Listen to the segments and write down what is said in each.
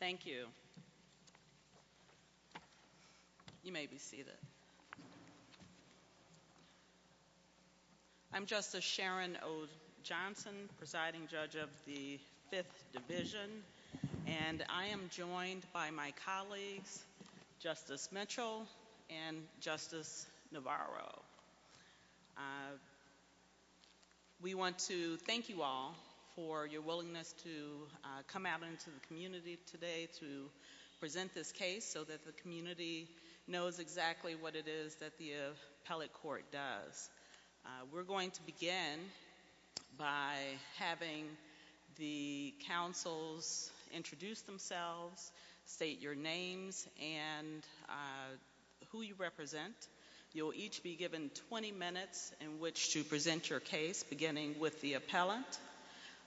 Thank you. You may be seated. I'm Justice Sharon O. Johnson, presiding judge of the 5th Division and I am joined by my colleagues Justice Mitchell and Justice Navarro. We want to thank you all for your willingness to come out into the community today to present this case so that the community knows exactly what it is that the appellate court does. We're going to begin by having the counsels introduce themselves, state your names, and who you represent. You'll each be given 20 minutes in which to present your case, beginning with the appellant,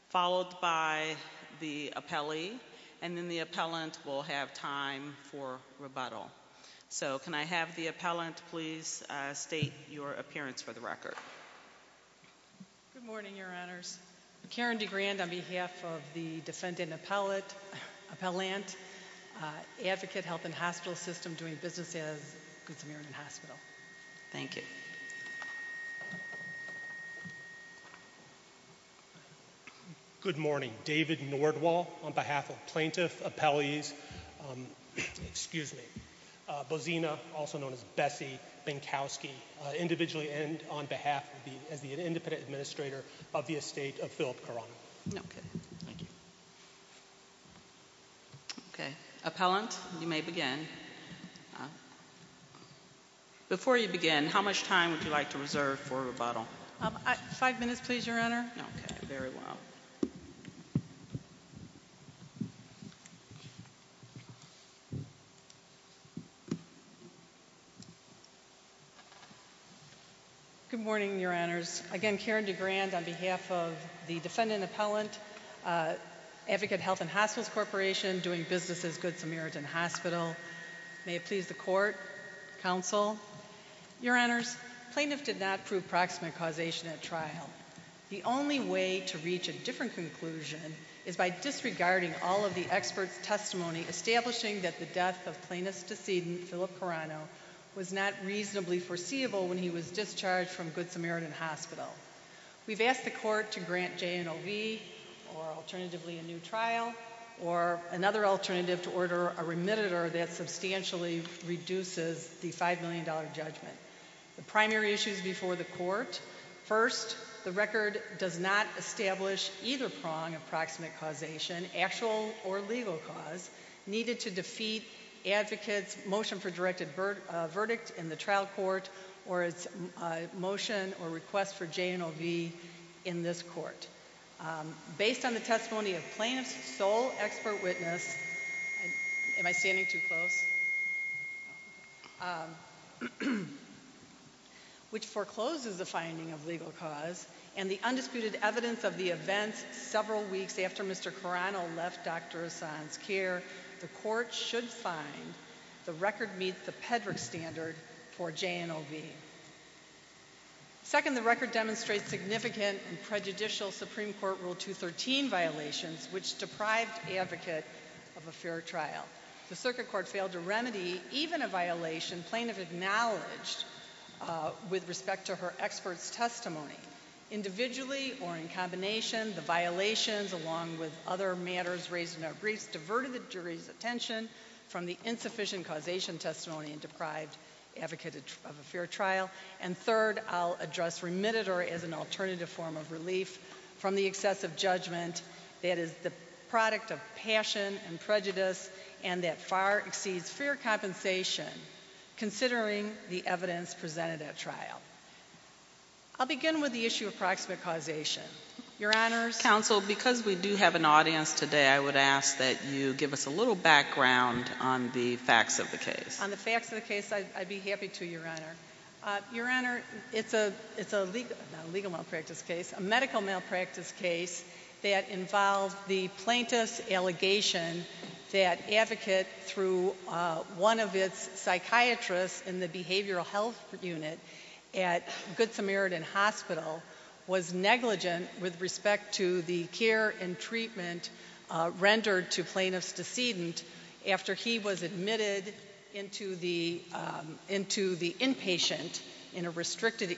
followed by the appellee, and then the appellant will have time for rebuttal. So, can I have the appellant please state your appearance for the record. Good morning, Your Honors. Karen DeGrand on behalf of the defendant appellant, Advocate Health & Hospital System, doing business as a consumer in a hospital. Thank you. Good morning. David Nordwall on behalf of Plaintiff Appellees, Bozina, also known as Bessie Benkowski, individually and on behalf of the independent administrator of the Estate of Philip Carano. Okay. Thank you. Okay. Appellant, you may begin. Before you begin, how much time would you like to reserve for rebuttal? Five minutes, please, Your Honor. Okay, very well. Good morning, Your Honors. Again, Karen DeGrand on behalf of the defendant appellant, Advocate Health & Hospital Corporation, doing business as Good Samaritan Hospital. May it please the Court, Counsel. Your Honors, plaintiff did not prove proximate causation at trial. The only way to reach a different conclusion is by disregarding all of the expert testimony establishing that the death of Plaintiff's decedent, Philip Carano, was not reasonably foreseeable when he was discharged from Good Samaritan Hospital. We've asked the Court to grant J&OV, or alternatively a new trial, or another alternative to order a remittitor that substantially reduces the $5 million judgment. The primary issues before the Court. First, the record does not establish either strong approximate causation, actual or legal cause, needed to defeat Advocate's motion for directed verdict in the trial court or its motion or request for J&OV in this court. Based on the testimony of Plaintiff's sole expert witness, which forecloses the finding of legal cause and the undisputed evidence of the event several weeks after Mr. Carano left Dr. Hassan's care, the Court should find the record meets the PEDRA standard for J&OV. Second, the record demonstrates significant and prejudicial Supreme Court Rule 213 violations, which deprives Advocate of a fair trial. The Circuit Court failed to remedy even a violation Plaintiff acknowledged with respect to her expert testimony. Individually or in combination, the violations, along with other matters raised in their briefs, diverted the jury's attention from the insufficient causation testimony and deprived Advocate of a fair trial. And third, I'll address remittitor as an alternative form of relief from the excessive judgment that is the product of passion and prejudice and that far exceeds fair compensation, considering the evidence presented at trial. I'll begin with the issue of proximate causation. Your Honor. Counsel, because we do have an audience today, I would ask that you give us a little background on the facts of the case. On the facts of the case, I'd be happy to, Your Honor. Your Honor, it's a medical malpractice case that involved the plaintiff's allegation that Advocate, through one of his psychiatrists in the behavioral health unit at Good Samaritan Hospital, was negligent with respect to the care and treatment rendered to plaintiff's decedent after he was admitted into the inpatient in a restricted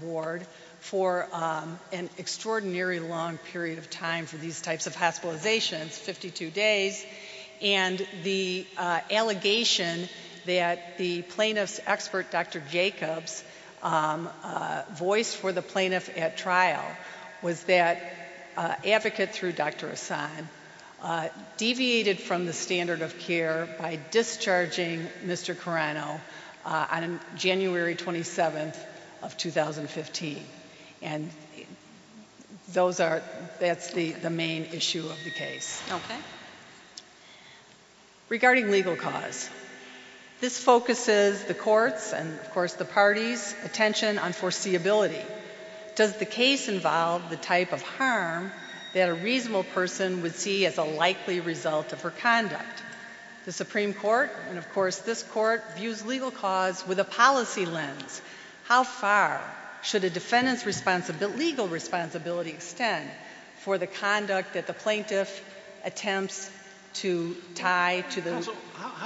ward for an extraordinarily long period of time for these types of hospitalizations, 52 days. And the allegation that the plaintiff's expert, Dr. Jacobs, voiced for the plaintiff at trial was that Advocate, through Dr. Assange, deviated from the standard of care by discharging Mr. Carano on January 27th of 2015. And that's the main issue of the case. Okay. Regarding legal cause, this focuses the court's and, of course, the party's attention on foreseeability. Does the case involve the type of harm that a reasonable person would see as a likely result of her conduct? The Supreme Court and, of course, this Court views legal cause with a policy lens. How far should a defendant's legal responsibility extend for the conduct that the plaintiff attempts to tie to the— Your Honor, I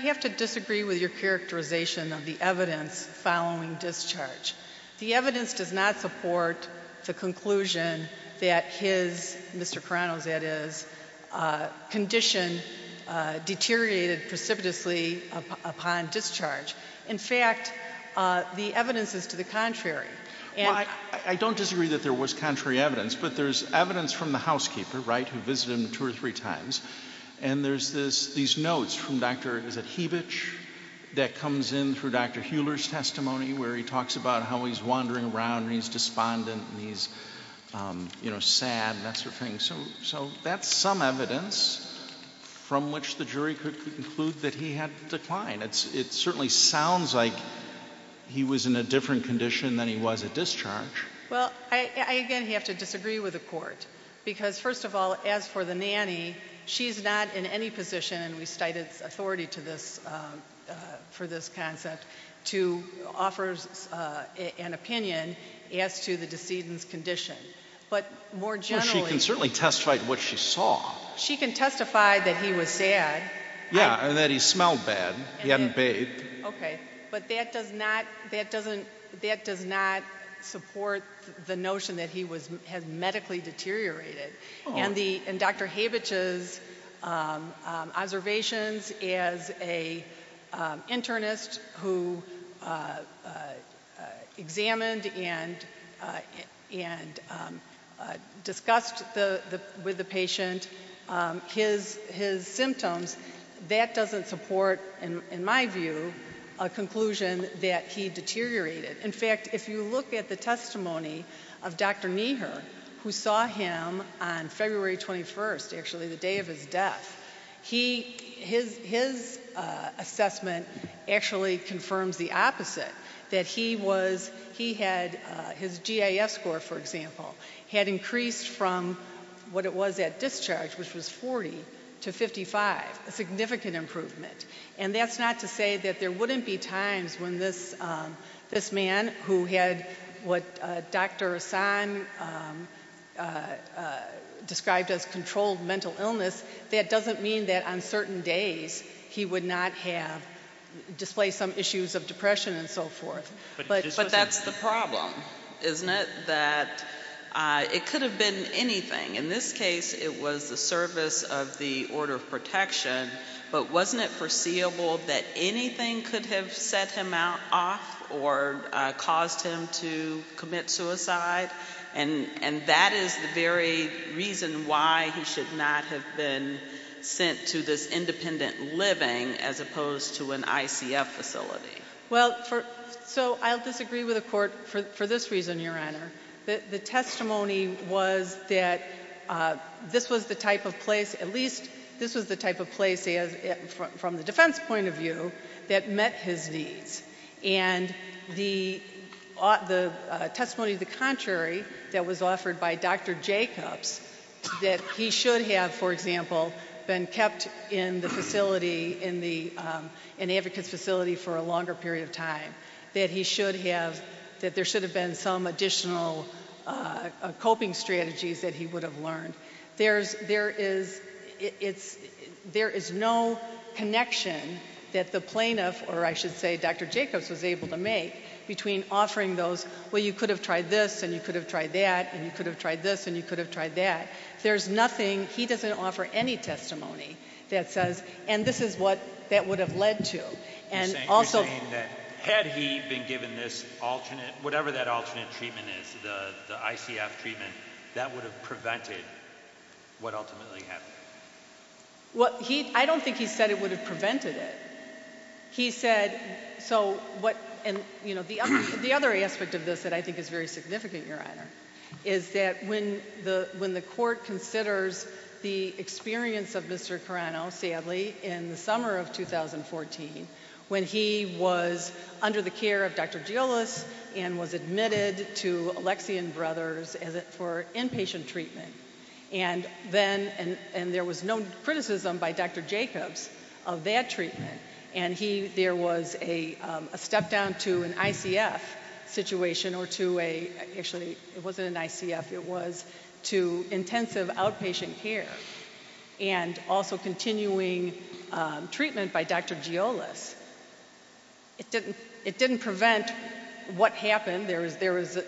have to disagree with your characterization of the evidence following discharge. The evidence does not support the conclusion that his—Mr. Carano's, that is—condition deteriorated precipitously upon discharge. In fact, the evidence is to the contrary. where he talks about how he's wandering around and he's despondent and he's, you know, sad and that sort of thing. So that's some evidence from which the jury could conclude that he had declined. It certainly sounds like he was in a different condition than he was at discharge. Well, I, again, have to disagree with the Court because, first of all, as for the nanny, she's not in any position, and we cited authority for this concept, to offer an opinion as to the decedent's condition. But more generally— Well, she can certainly testify to what she saw. She can testify that he was sad. Yeah, and that he smelled bad. He hadn't bathed. Okay. But that does not—that doesn't—that does not support the notion that he was—had medically deteriorated. And Dr. Habich's observations as an internist who examined and discussed with the patient his symptoms, that doesn't support, in my view, a conclusion that he deteriorated. In fact, if you look at the testimony of Dr. Nieher, who saw him on February 21st, actually the day of his death, his assessment actually confirms the opposite, that he was—he had—his GIS score, for example, had increased from what it was at discharge, which was 40, to 55, a significant improvement. And that's not to say that there wouldn't be times when this man, who had what Dr. Assange described as controlled mental illness, that doesn't mean that on certain days he would not have—display some issues of depression and so forth. But that's the problem, isn't it, that it could have been anything. In this case, it was the service of the order of protection. But wasn't it foreseeable that anything could have set him off or caused him to commit suicide? And that is the very reason why he should not have been sent to this independent living as opposed to an ICF facility. Well, so I'll disagree with the Court for this reason, Your Honor. The testimony was that this was the type of place, at least this was the type of place from the defense point of view, that met his needs. And the testimony of the contrary that was offered by Dr. Jacobs, that he should have, for example, been kept in the facility, in an advocate's facility for a longer period of time, that he should have—that there should have been some additional coping strategies that he would have learned. There is no connection that the plaintiff, or I should say Dr. Jacobs, was able to make between offering those, well, you could have tried this and you could have tried that and you could have tried this and you could have tried that. There's nothing—he doesn't offer any testimony that says, and this is what that would have led to. You're saying that had he been given this alternate, whatever that alternate treatment is, the ICF treatment, that would have prevented what ultimately happened? Well, I don't think he said it would have prevented it. He said—so what—and, you know, the other aspect of this that I think is very significant, Your Honor, is that when the court considers the experience of Mr. Carano, sadly, in the summer of 2014, when he was under the care of Dr. Gilles and was admitted to Alexian Brothers for inpatient treatment, and there was no criticism by Dr. Jacobs of that treatment, and there was a step down to an ICF situation or to a— actually, it wasn't an ICF, it was to intensive outpatient care and also continuing treatment by Dr. Gilles. It didn't prevent what happened. There was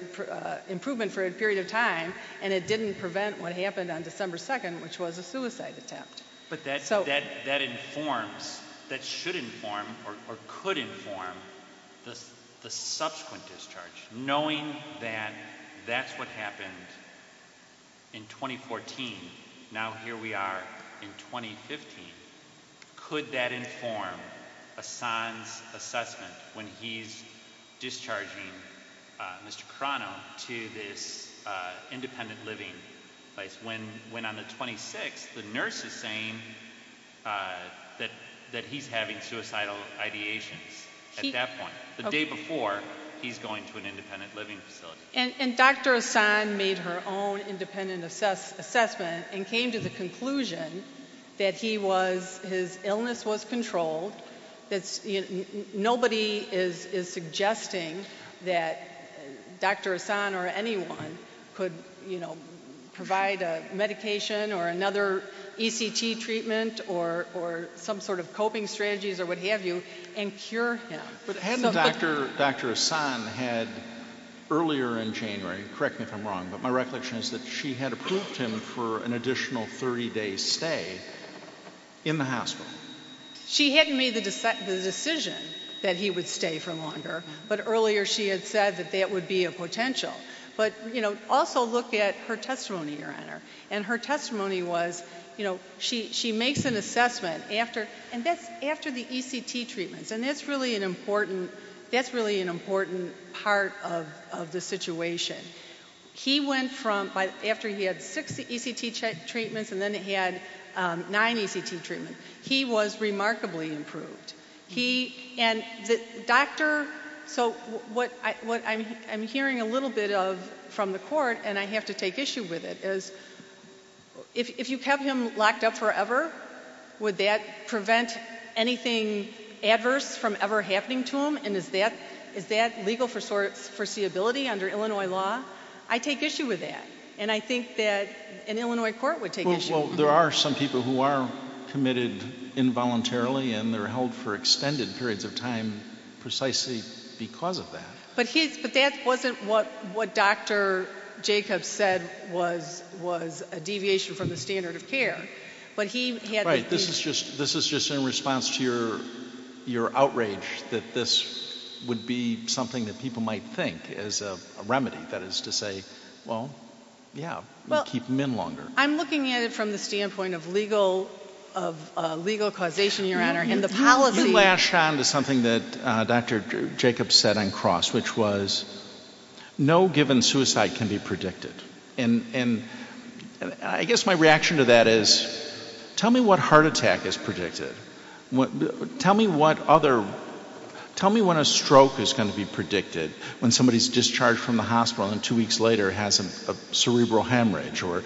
improvement for a period of time, and it didn't prevent what happened on December 2nd, which was a suicide attack. But that informs—that should inform or could inform the subsequent discharge. Knowing that that's what happened in 2014, now here we are in 2015, could that inform a son's assessment when he's discharging Mr. Carano to his independent living place? When on the 26th, the nurse is saying that he's having suicidal ideation at that point. The day before, he's going to an independent living facility. And Dr. Hassan made her own independent assessment and came to the conclusion that he was—his illness was controlled. Nobody is suggesting that Dr. Hassan or anyone could provide a medication or another ECT treatment or some sort of coping strategies or what have you and cure him. But hadn't Dr. Hassan had earlier in January, correct me if I'm wrong, but my recollection is that she had approved him for an additional 30-day stay in the hospital. She hadn't made the decision that he would stay for longer, but earlier she had said that that would be a potential. But, you know, also look at her testimony, Your Honor. And her testimony was, you know, she makes an assessment after the ECT treatment, and that's really an important part of the situation. He went from—after he had six ECT treatments and then he had nine ECT treatments, he was remarkably improved. And the doctor—so what I'm hearing a little bit of from the court, and I have to take issue with it, is if you have him locked up forever, would that prevent anything adverse from ever happening to him? And is that legal foreseeability under Illinois law? I take issue with that, and I think that an Illinois court would take issue with that. Well, there are some people who are committed involuntarily, and they're held for extended periods of time precisely because of that. But that wasn't what Dr. Jacobs said was a deviation from the standard of care. Right. This is just in response to your outrage that this would be something that people might think as a remedy, that is to say, well, yeah, we'll keep him in longer. I'm looking at it from the standpoint of legal causation, Your Honor, and the policy— You flash on to something that Dr. Jacobs said on cross, which was no given suicide can be predicted. And I guess my reaction to that is tell me what heart attack is predicted. Tell me what other—tell me when a stroke is going to be predicted, when somebody is discharged from the hospital and two weeks later has a cerebral hemorrhage or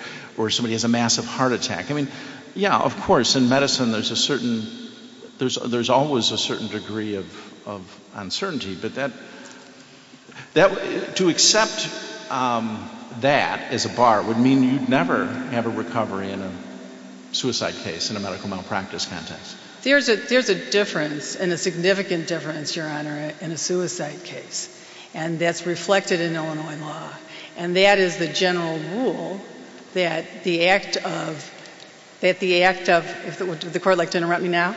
somebody has a massive heart attack. I mean, yeah, of course, in medicine there's a certain—there's always a certain degree of uncertainty, but to accept that as a bar would mean you'd never have a recovery in a suicide case in a medical malpractice context. There's a difference, and a significant difference, Your Honor, in a suicide case. And that's reflected in Illinois law. And that is the general rule that the act of—if the Court would like to interrupt me now.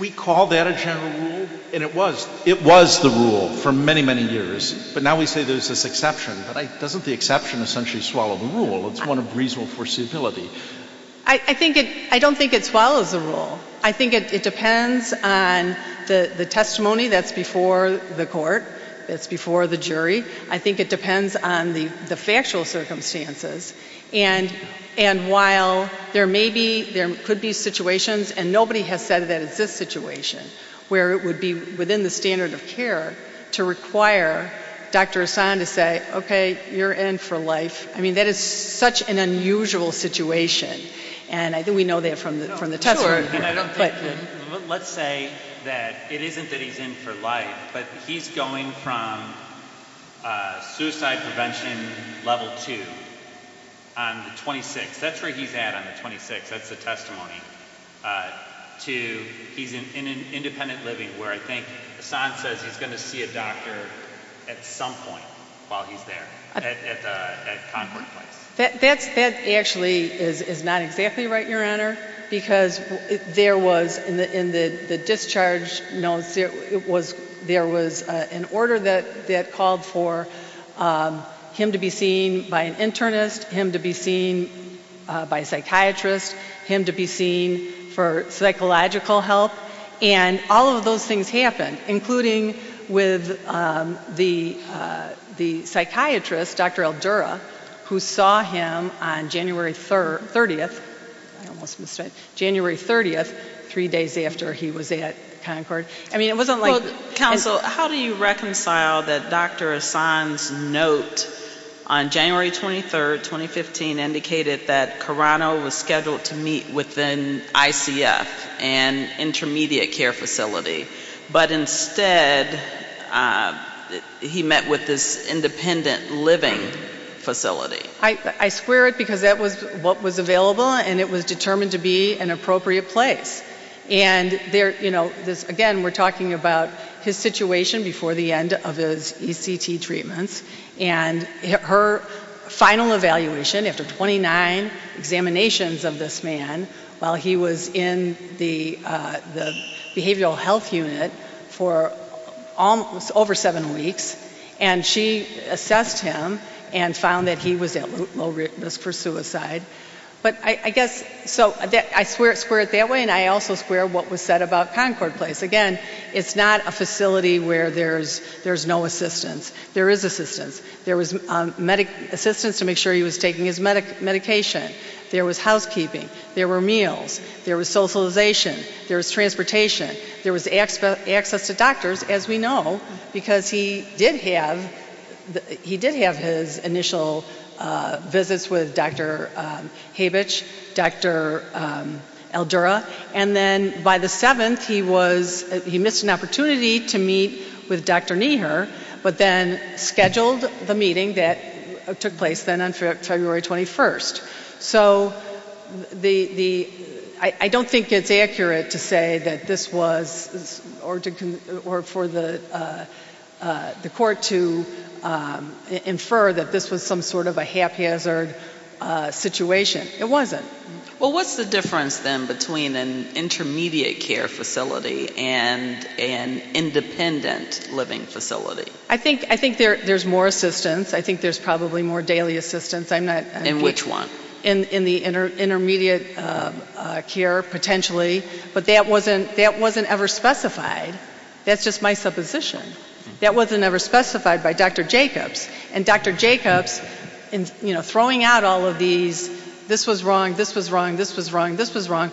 We call that a general rule? And it was. It was the rule for many, many years. But now we say there's this exception. Doesn't the exception essentially swallow the rule? It's one of reasonable foreseeability. I think it—I don't think it swallows the rule. I think it depends on the testimony that's before the Court, that's before the jury. I think it depends on the factual circumstances. And while there may be—there could be situations, and nobody has said that it's this situation, where it would be within the standard of care to require Dr. Hassan to say, okay, you're in for life. I mean, that is such an unusual situation. And I think we know that from the testimony. Let's say that it isn't that he's in for life, but he's going from suicide prevention level two on the 26th. That's where he's at on the 26th. That's the testimony. He's in independent living, where I think Hassan says he's going to see a doctor at some point while he's there, at time or time. That actually is not exactly right, Your Honor, because there was, in the discharge notes, there was an order that called for him to be seen by an internist, him to be seen by a psychiatrist, him to be seen for psychological help, and all of those things happened, including with the psychiatrist, Dr. Aldura, who saw him on January 30th, three days after he was at Concord. Counsel, how do you reconcile that Dr. Hassan's note on January 23rd, 2015, indicated that Carano was scheduled to meet with an ICF, an intermediate care facility, but instead he met with this independent living facility? I swear it, because that was what was available, and it was determined to be an appropriate place. Again, we're talking about his situation before the end of his ECT treatment, and her final evaluation after 29 examinations of this man while he was in the behavioral health unit for over seven weeks, and she assessed him and found that he was at low risk for suicide. I swear it that way, and I also swear what was said about Concord Place. Again, it's not a facility where there's no assistance. There is assistance. There was assistance to make sure he was taking his medication. There was housekeeping. There were meals. There was socialization. There was transportation. There was access to doctors, as we know, because he did have his initial visits with Dr. Habich, Dr. Aldura, and then by the 7th, he missed an opportunity to meet with Dr. Nieher, but then scheduled the meeting that took place then on February 21st. So I don't think it's accurate to say that this was, or for the court to infer that this was some sort of a haphazard situation. It wasn't. Well, what's the difference then between an intermediate care facility and an independent living facility? I think there's more assistance. I think there's probably more daily assistance. In which one? In the intermediate care, potentially, but that wasn't ever specified. That's just my supposition. That wasn't ever specified by Dr. Jacobs, and Dr. Jacobs, you know, throwing out all of these, this was wrong, this was wrong, this was wrong, this was wrong,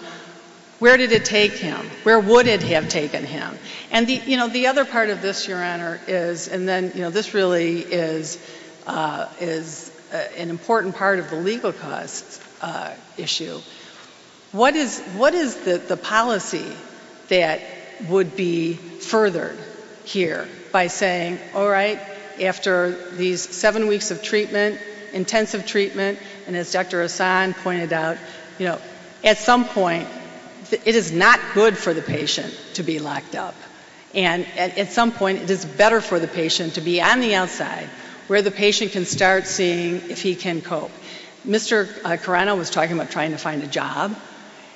where did it take him? Where would it have taken him? And, you know, the other part of this, Your Honor, is, and then, you know, this really is an important part of the legal cause issue. What is the policy that would be furthered here by saying, all right, after these seven weeks of treatment, intensive treatment, and as Dr. Hassan pointed out, you know, at some point, it is not good for the patient to be locked up. And at some point, it is better for the patient to be on the outside, where the patient can start seeing if he can cope. Mr. Carano was talking about trying to find a job.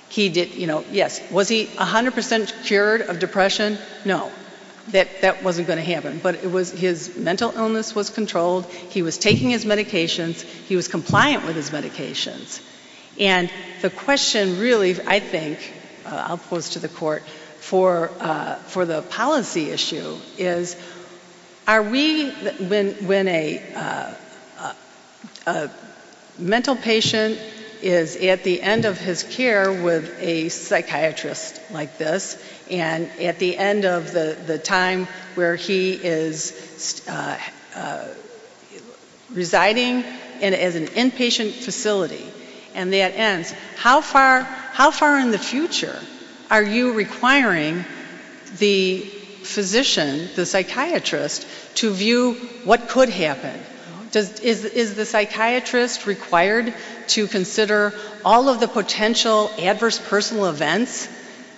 He did, you know, yes, was he 100% cured of depression? No. That wasn't going to happen. But his mental illness was controlled. He was taking his medications. He was compliant with his medications. And the question, really, I think, I'll pose to the court, for the policy issue is, are we, when a mental patient is at the end of his care with a psychiatrist like this, and at the end of the time where he is residing in an inpatient facility and that ends, how far in the future are you requiring the physician, the psychiatrist, to view what could happen? Is the psychiatrist required to consider all of the potential adverse personal events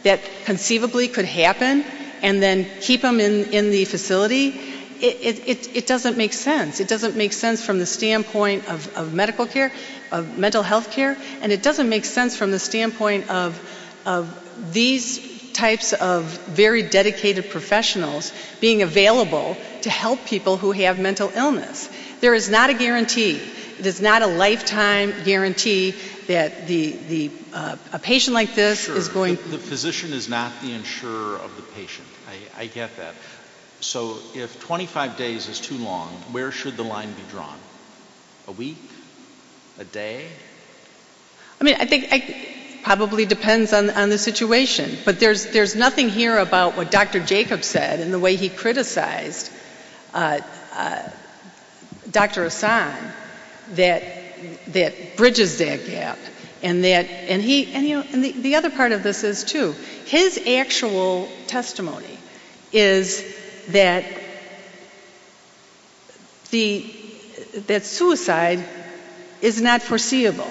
that conceivably could happen and then keep them in the facility? It doesn't make sense. It doesn't make sense from the standpoint of medical care, of mental health care, and it doesn't make sense from the standpoint of these types of very dedicated professionals being available to help people who have mental illness. There is not a guarantee. There is not a lifetime guarantee that a patient like this is going to The physician is not the insurer of the patient. I get that. So if 25 days is too long, where should the line be drawn? A week? A day? I mean, I think it probably depends on the situation. But there's nothing here about what Dr. Jacobs said and the way he criticized Dr. Assange that bridges that gap. And the other part of this is, too, his actual testimony is that suicide is not foreseeable.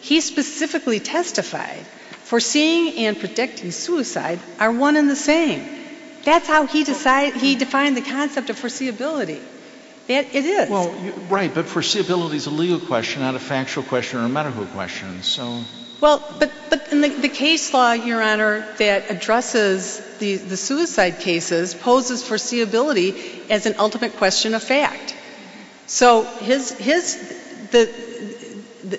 He specifically testified foreseeing and predicting suicide are one and the same. That's how he defined the concept of foreseeability. It is. Right, but foreseeability is a legal question, not a factual question or a medical question. Well, but the case law, Your Honor, that addresses the suicide cases poses foreseeability as an ultimate question of fact. So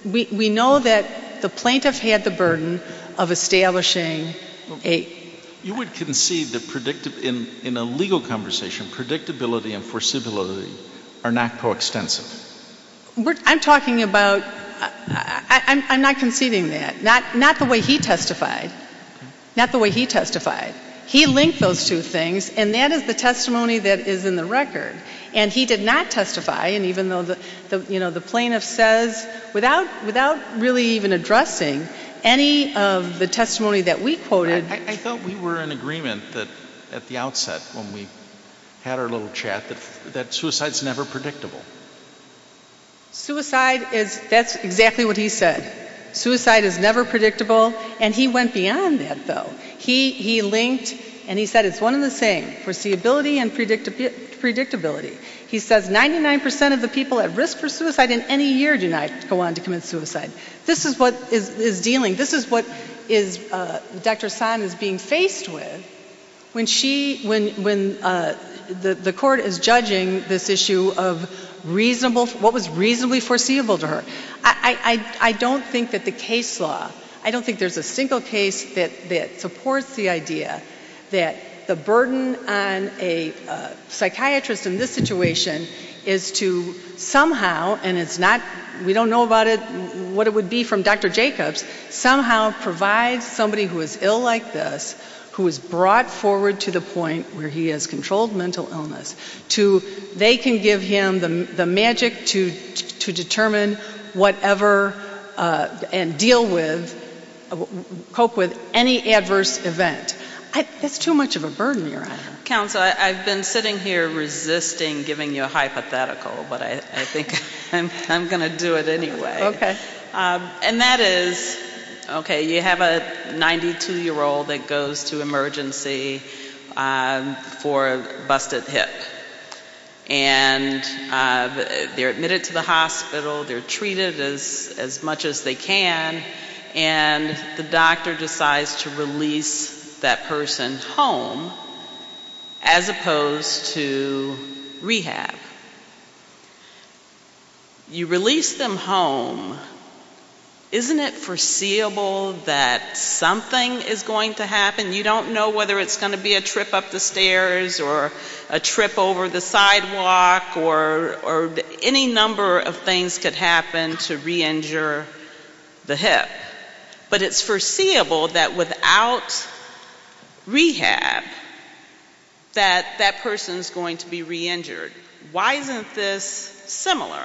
we know that the plaintiff had the burden of establishing a You would concede that in a legal conversation, predictability and foreseeability are not coextensive. I'm talking about, I'm not conceding that. Not the way he testified. Not the way he testified. He linked those two things, and that is the testimony that is in the record. And he did not testify, and even though the plaintiff says, without really even addressing any of the testimony that we quoted. I thought we were in agreement at the outset when we had our little chat that suicide is never predictable. Suicide is, that's exactly what he said. Suicide is never predictable, and he went beyond that, though. He linked, and he said it's one and the same, foreseeability and predictability. He says 99% of the people at risk for suicide in any year do not go on to commit suicide. This is what is dealing, this is what Dr. San is being faced with when she, when the court is judging this issue of reasonable, what was reasonably foreseeable to her. I don't think that the case law, I don't think there's a single case that supports the idea that the burden on a psychiatrist in this situation is to somehow, and it's not, we don't know about it, what it would be from Dr. Jacobs, somehow provide somebody who is ill like this, who is brought forward to the point where he has controlled mental illness, they can give him the magic to determine whatever and deal with, cope with any adverse event. That's too much of a burden you're under. Counsel, I've been sitting here resisting giving you a hypothetical, but I think I'm going to do it anyway. Okay. And that is, okay, you have a 92-year-old that goes to emergency for a busted hip. And they're admitted to the hospital, they're treated as much as they can, and the doctor decides to release that person home as opposed to rehab. And you release them home, isn't it foreseeable that something is going to happen? You don't know whether it's going to be a trip up the stairs or a trip over the sidewalk or any number of things could happen to re-injure the hip. But it's foreseeable that without rehab that that person is going to be re-injured. Why isn't this similar?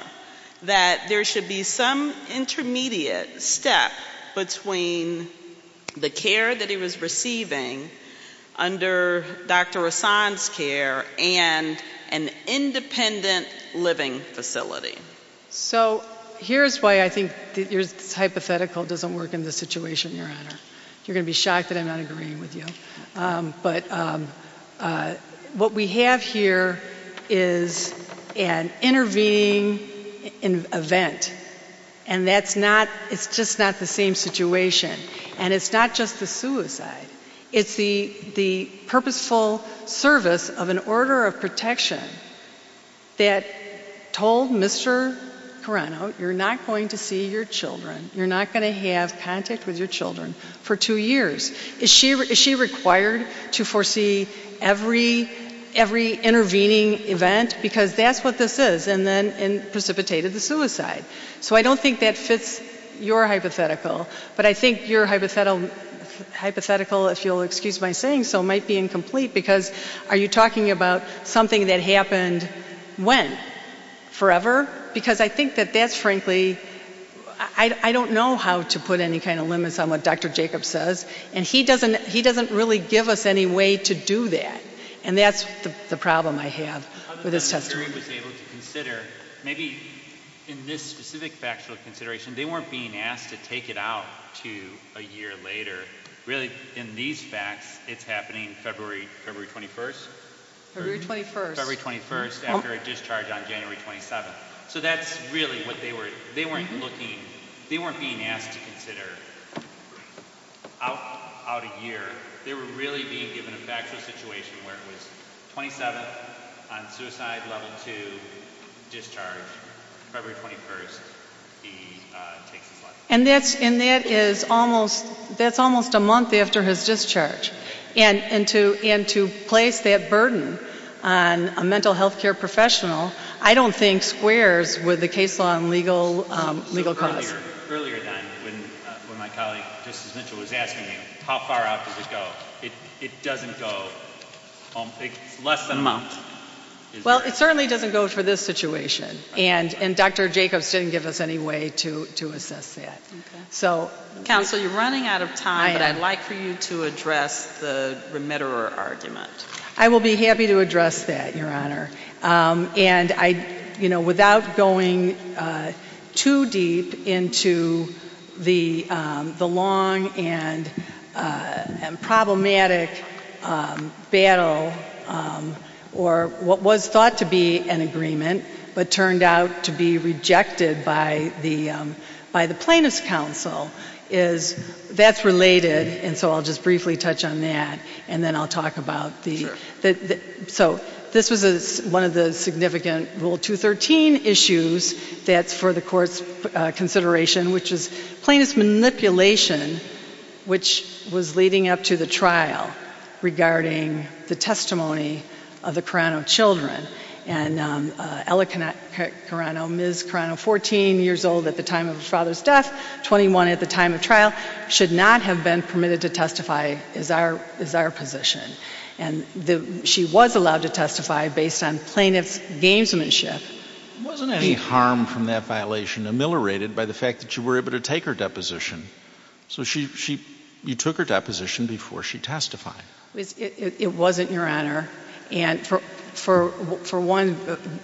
That there should be some intermediate step between the care that he was receiving under Dr. Hassan's care and an independent living facility. So here's why I think your hypothetical doesn't work in this situation, Your Honor. You're going to be shocked that I'm not agreeing with you. But what we have here is an intervening event. And that's not, it's just not the same situation. And it's not just a suicide. It's the purposeful service of an order of protection that told Mr. Carano, you're not going to see your children. You're not going to have contact with your children for two years. Is she required to foresee every intervening event? Because that's what this is. And then precipitated the suicide. So I don't think that fits your hypothetical. But I think your hypothetical, if you'll excuse my saying so, might be incomplete because are you talking about something that happened when? Forever? Because I think that that's frankly, I don't know how to put any kind of limits on what Dr. Jacobs says. And he doesn't really give us any way to do that. And that's the problem I have with his testimony. Maybe in this specific factual consideration, they weren't being asked to take it out to a year later. Really, in these facts, it's happening February 21st? February 21st. February 21st after a discharge on January 27th. So that's really what they were, they weren't looking, they weren't being asked to consider out a year. They were really being given a factual situation where it was 27th on suicide, 12th to discharge, February 21st. And that's almost a month after his discharge. And to place that burden on a mental health care professional, I don't think squares with the case law and legal context. Earlier then, when my colleague was asking me how far out did it go, it doesn't go. It's less than a month. Well, it certainly doesn't go for this situation. And Dr. Jacobs didn't give us any way to assess that. Counsel, you're running out of time, but I'd like for you to address the remitterer argument. I will be happy to address that, Your Honor. And, you know, without going too deep into the long and problematic battle, or what was thought to be an agreement but turned out to be rejected by the Plaintiffs' Council, that's related, and so I'll just briefly touch on that, and then I'll talk about the... So this is one of the significant Rule 213 issues that's for the court's consideration, which is plaintiff's manipulation, which was leading up to the trial, regarding the testimony of the Carano children. And Ella Carano, Ms. Carano, 14 years old at the time of his father's death, 21 at the time of trial, should not have been permitted to testify, is our position. And she was allowed to testify based on plaintiff's gainsmanship. Wasn't any harm from that violation ameliorated by the fact that you were able to take her deposition? So you took her deposition before she testified. It wasn't, Your Honor, and for one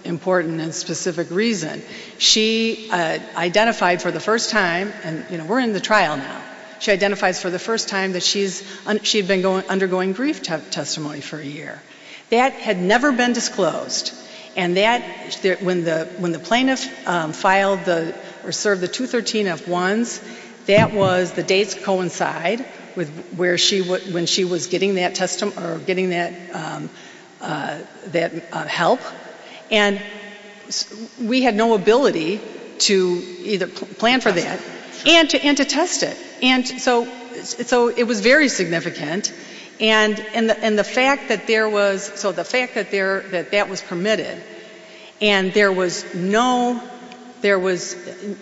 important and specific reason. She identified for the first time, and we're in the trial now, she identified for the first time that she had been undergoing grief testimony for a year. That had never been disclosed, and when the plaintiff filed or served the 213-F1, that was the date to coincide with when she was getting that help, and we had no ability to either plan for that and to test it. And so it was very significant, and the fact that that was permitted, and there was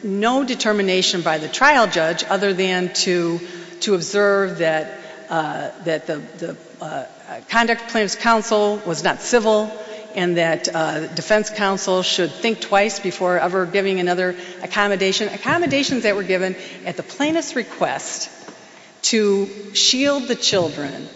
no determination by the trial judge other than to observe that the conduct of plaintiff's counsel was not civil and that defense counsel should think twice before ever giving another accommodation. Accommodations that were given at the plaintiff's request to shield the children,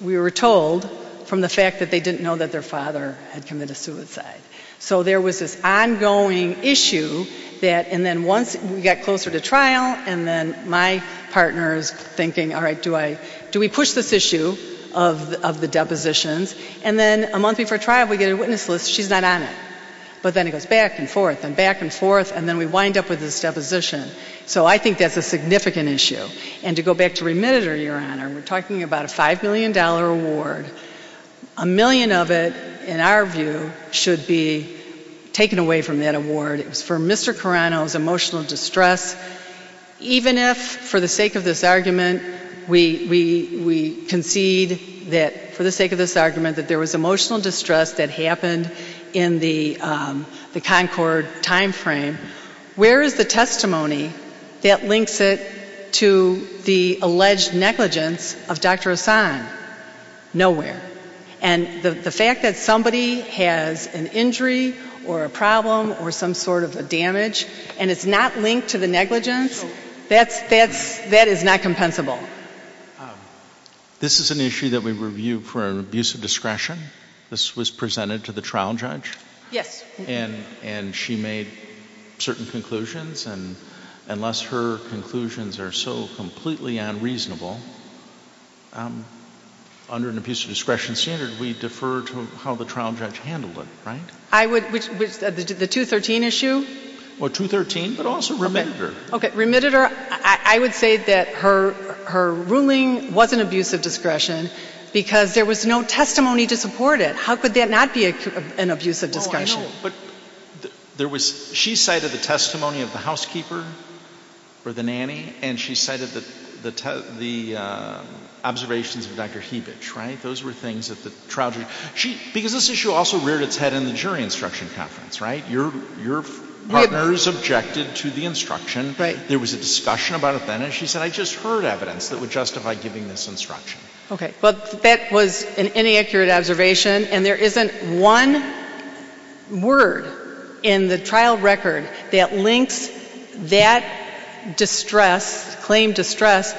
we were told, from the fact that they didn't know that their father had committed suicide. So there was this ongoing issue that, and then once we got closer to trial, and then my partner is thinking, all right, do we push this issue of the depositions, and then a month before trial, we get a witness list, she's not on it. But then it goes back and forth and back and forth, and then we wind up with this deposition. So I think that's a significant issue, and to go back to remitter, Your Honor, we're talking about a $5 million award. A million of it, in our view, should be taken away from that award for Mr. Carano's emotional distress, because even if, for the sake of this argument, we concede that, for the sake of this argument, that there was emotional distress that happened in the Concord timeframe, where is the testimony that links it to the alleged negligence of Dr. Hassan? Nowhere. And the fact that somebody has an injury or a problem or some sort of a damage and it's not linked to the negligence, that is not compensable. This is an issue that we review for an abuse of discretion. This was presented to the trial judge. Yes. And she made certain conclusions, and unless her conclusions are so completely unreasonable, under an abuse of discretion standard, we defer to how the trial judge handled it, right? The 213 issue? Well, 213, but also remitter. Okay, remitter. I would say that her ruling was an abuse of discretion because there was no testimony to support it. How could that not be an abuse of discretion? Oh, I know, but she cited the testimony of the housekeeper or the nanny, and she cited the observations of Dr. Hebich, right? Because this issue also reared its head in the jury instruction conference, right? Your partners objected to the instruction. There was a discussion about it then, and she said, I just heard evidence that would justify giving this instruction. Okay. Well, that was an inaccurate observation, and there isn't one word in the trial record that links that distress, claimed distress,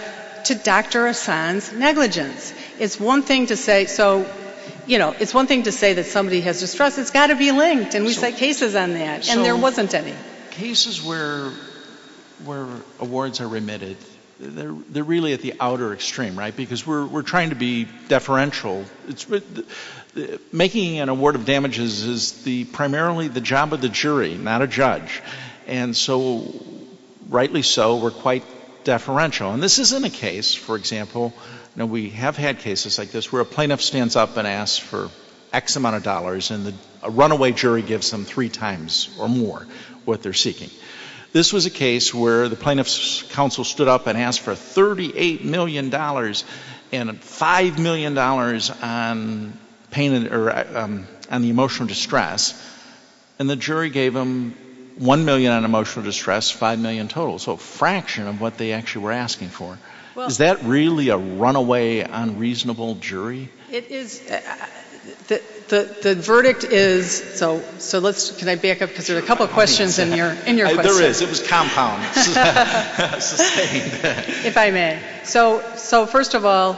to Dr. Hassan's negligence. It's one thing to say that somebody has distress. It's got to be linked, and we've had cases on that, and there wasn't any. Cases where awards are remitted, they're really at the outer extreme, right? Because we're trying to be deferential. Making an award of damages is primarily the job of the jury, not a judge. And so, rightly so, we're quite deferential. And this isn't a case, for example, and we have had cases like this where a plaintiff stands up and asks for X amount of dollars, and a runaway jury gives them three times or more what they're seeking. This was a case where the plaintiff's counsel stood up and asked for $38 million and $5 million on the emotional distress, and the jury gave them $1 million on emotional distress, $5 million total. That's also a fraction of what they actually were asking for. Is that really a runaway, unreasonable jury? The verdict is, so let's, can I back up? Because there are a couple of questions in your question. There is. It was compounded. If I may. So, first of all,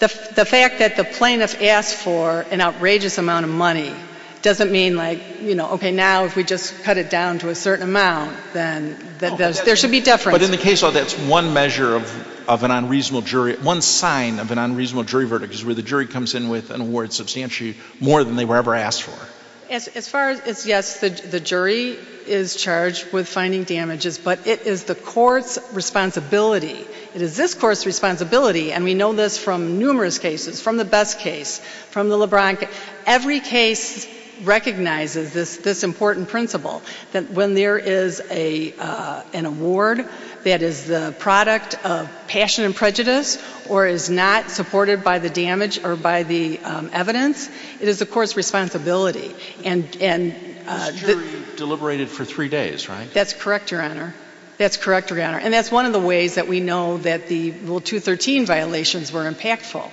the fact that the plaintiff asked for an outrageous amount of money doesn't mean like, you know, okay, now if we just cut it down to a certain amount, then there should be deference. But in the case of this, one measure of an unreasonable jury, one sign of an unreasonable jury verdict is where the jury comes in with an award substantially more than they were ever asked for. As far as, yes, the jury is charged with finding damages, but it is the court's responsibility. It is this court's responsibility, and we know this from numerous cases, from the Best case, from the LeBron case. Every case recognizes this important principle, that when there is an award that is the product of passion and prejudice or is not supported by the damage or by the evidence, it is the court's responsibility. And the jury deliberated for three days, right? That's correct, Your Honor. That's correct, Your Honor. And that's one of the ways that we know that the Rule 213 violations were impactful,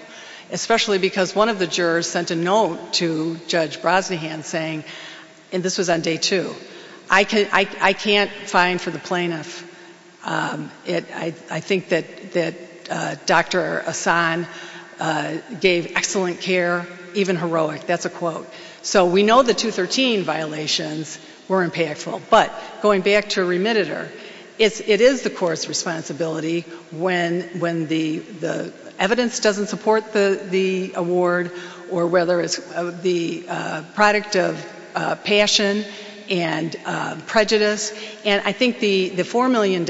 especially because one of the jurors sent a note to Judge Brosnahan saying, and this was on day two, I can't sign for the plaintiff. I think that Dr. Ahsan gave excellent care, even heroic. That's a quote. So we know the 213 violations were impactful. But going back to remitter, it is the court's responsibility when the evidence doesn't support the award or whether it's the product of passion and prejudice. And I think the $4 million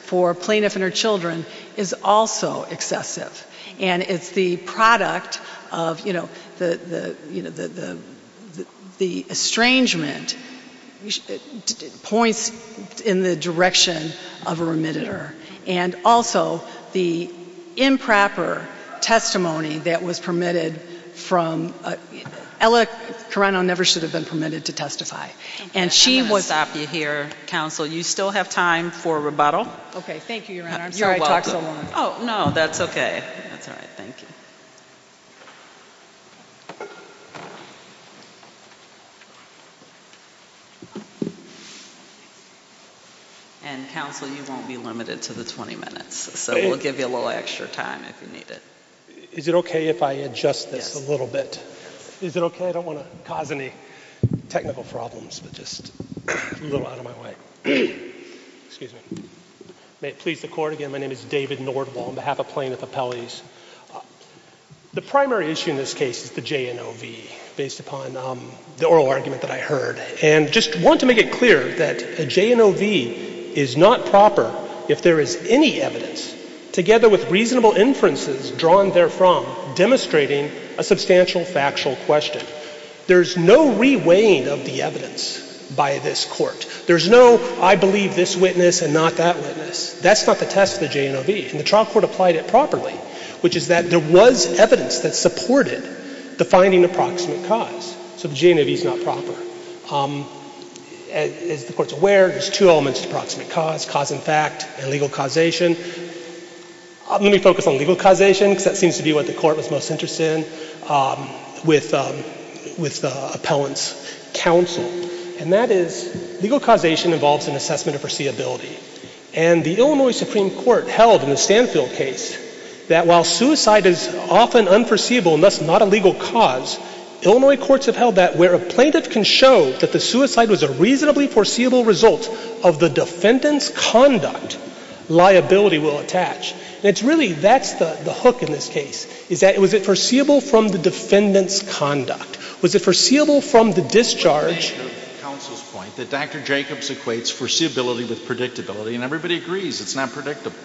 for plaintiff and her children is also excessive. And it's the product of, you know, the estrangement points in the direction of a remitter. And also the improper testimony that was permitted from — Ella Carano never should have been permitted to testify. And she was — I'll be here, counsel. You still have time for rebuttal. Okay. Thank you, Your Honor. I'm sorry I talked so long. Oh, no, that's okay. That's all right. Thank you. And, counsel, you won't be limited to the 20 minutes. So we'll give you a little extra time if you need it. Is it okay if I adjust this a little bit? Yes. Is it okay? I don't want to cause any technical problems. I'm just a little out of my way. Excuse me. May it please the Court. Again, my name is David Nordwall on behalf of Plaintiff Appellees. The primary issue in this case is the JNOV, based upon the oral argument that I heard. And I just want to make it clear that the JNOV is not proper if there is any evidence, together with reasonable inferences drawn therefrom, demonstrating a substantial factual question. There is no reweighing of the evidence by this Court. There is no, I believe this witness and not that witness. That's not the test of the JNOV. And the trial court applied it properly, which is that there was evidence that supported the finding of proximate cause. So the JNOV is not proper. As the Court is aware, there's two elements to proximate cause, cause in fact and legal causation. Let me focus on legal causation because that seems to be what the Court was most interested in with the appellant's counsel. And that is legal causation involves an assessment of foreseeability. And the Illinois Supreme Court held in the Stanfield case that while suicide is often unforeseeable and thus not a legal cause, Illinois courts have held that where a plaintiff can show that the suicide was a reasonably foreseeable result of the defendant's conduct, liability will attach. And it's really, that's the hook in this case, is that was it foreseeable from the defendant's conduct? Was it foreseeable from the discharge? Counsel's point, that Dr. Jacobs equates foreseeability with predictability, and everybody agrees it's not predictable.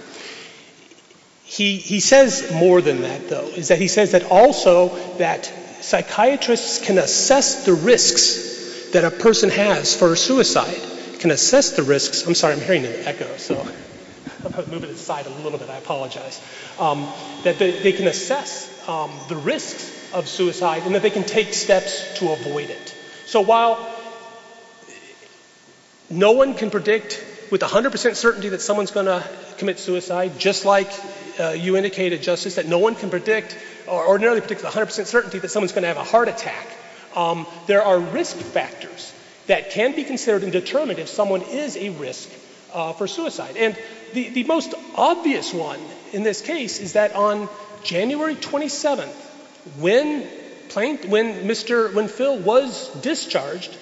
He says more than that, though. He says that also that psychiatrists can assess the risks that a person has for a suicide, can assess the risks. I'm sorry, I'm hearing an echo. I'll move it aside a little bit, I apologize. That they can assess the risk of suicide and that they can take steps to avoid it. So while no one can predict with 100% certainty that someone's going to commit suicide, just like you indicated, Justice, that no one can predict or ordinarily predict with 100% certainty that someone's going to have a heart attack, there are risk factors that can be considered and determined if someone is at risk for suicide. And the most obvious one in this case is that on January 27th, when Phil was discharged,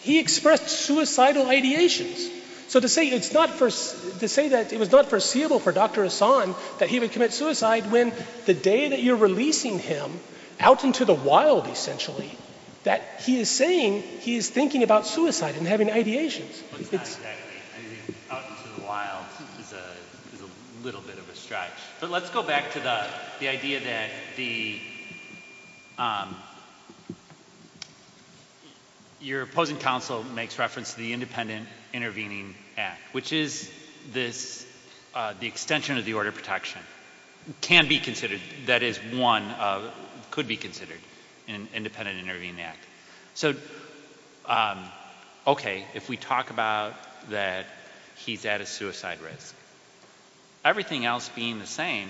he expressed suicidal ideations. So to say that it was not foreseeable for Dr. Hassan that he would commit suicide when the day that you're releasing him, out into the wild essentially, that he is saying he is thinking about suicide and having ideations. I think out into the wild is a little bit of a stretch. But let's go back to the idea that your opposing counsel makes reference to the Independent Intervening Act, which is the extension of the Order of Protection. It can be considered, that is one, could be considered an Independent Intervening Act. So, okay, if we talk about that he's at a suicide risk, everything else being the same,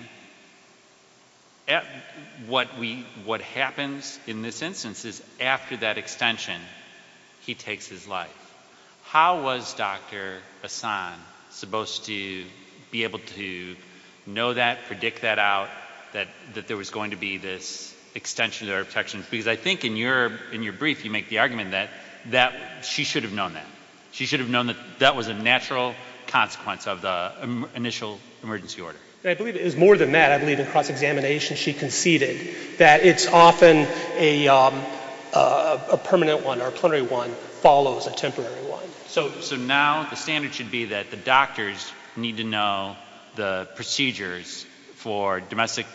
what happens in this instance is after that extension, he takes his life. How was Dr. Hassan supposed to be able to know that, predict that out, that there was going to be this extension of the Order of Protection? Because I think in your brief you make the argument that she should have known that. She should have known that that was a natural consequence of the initial emergency order. I believe it was more than that. I believe across examination she conceded that it's often a permanent one or a plenary one follows a temporary one. So now the standard should be that the doctors need to know the procedures for domestic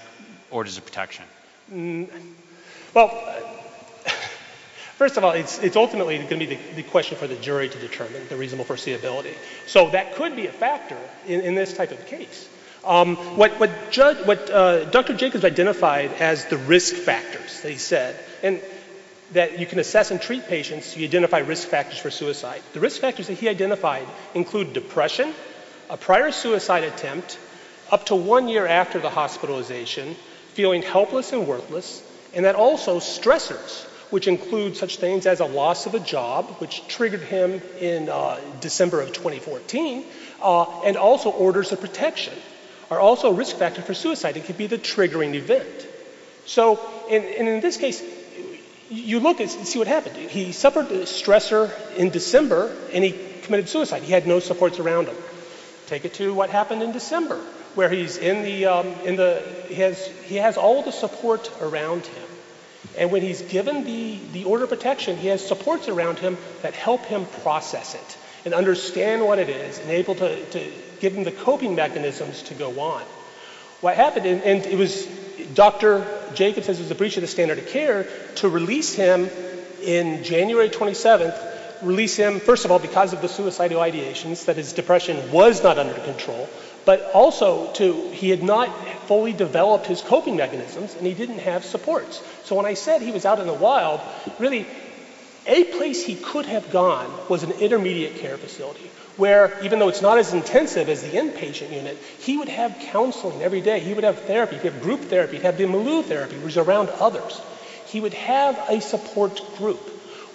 orders of protection. Well, first of all, it's ultimately going to be the question for the jury to determine the reasonable foreseeability. So that could be a factor in this type of case. What Dr. Jacobs identified as the risk factors, he said, that you can assess and treat patients if you identify risk factors for suicide. The risk factors that he identified include depression, a prior suicide attempt, up to one year after the hospitalization, feeling helpless and worthless, and that also stressors, which include such things as a loss of a job, which triggered him in December of 2014, and also orders of protection, are also risk factors for suicide. It could be the triggering event. So in this case, you look and see what happens. He suffered a stressor in December and he committed suicide. He had no supports around him. Take it to what happened in December, where he has all the supports around him, and when he's given the order of protection, he has supports around him that help him process it and understand what it is and able to give him the coping mechanisms to go on. What happened, and it was Dr. Jacobs, as he was appreciated standard of care, to release him in January 27th, release him, first of all, because of the suicidal ideations, that his depression was not under control, but also he had not fully developed his coping mechanisms and he didn't have supports. So when I said he was out in the wild, really, a place he could have gone was an intermediate care facility, where, even though it's not as intensive as the inpatient unit, he would have counseling every day. He would have therapy. He would have group therapy. He would have bimaloo therapy, which is around others. He would have a support group.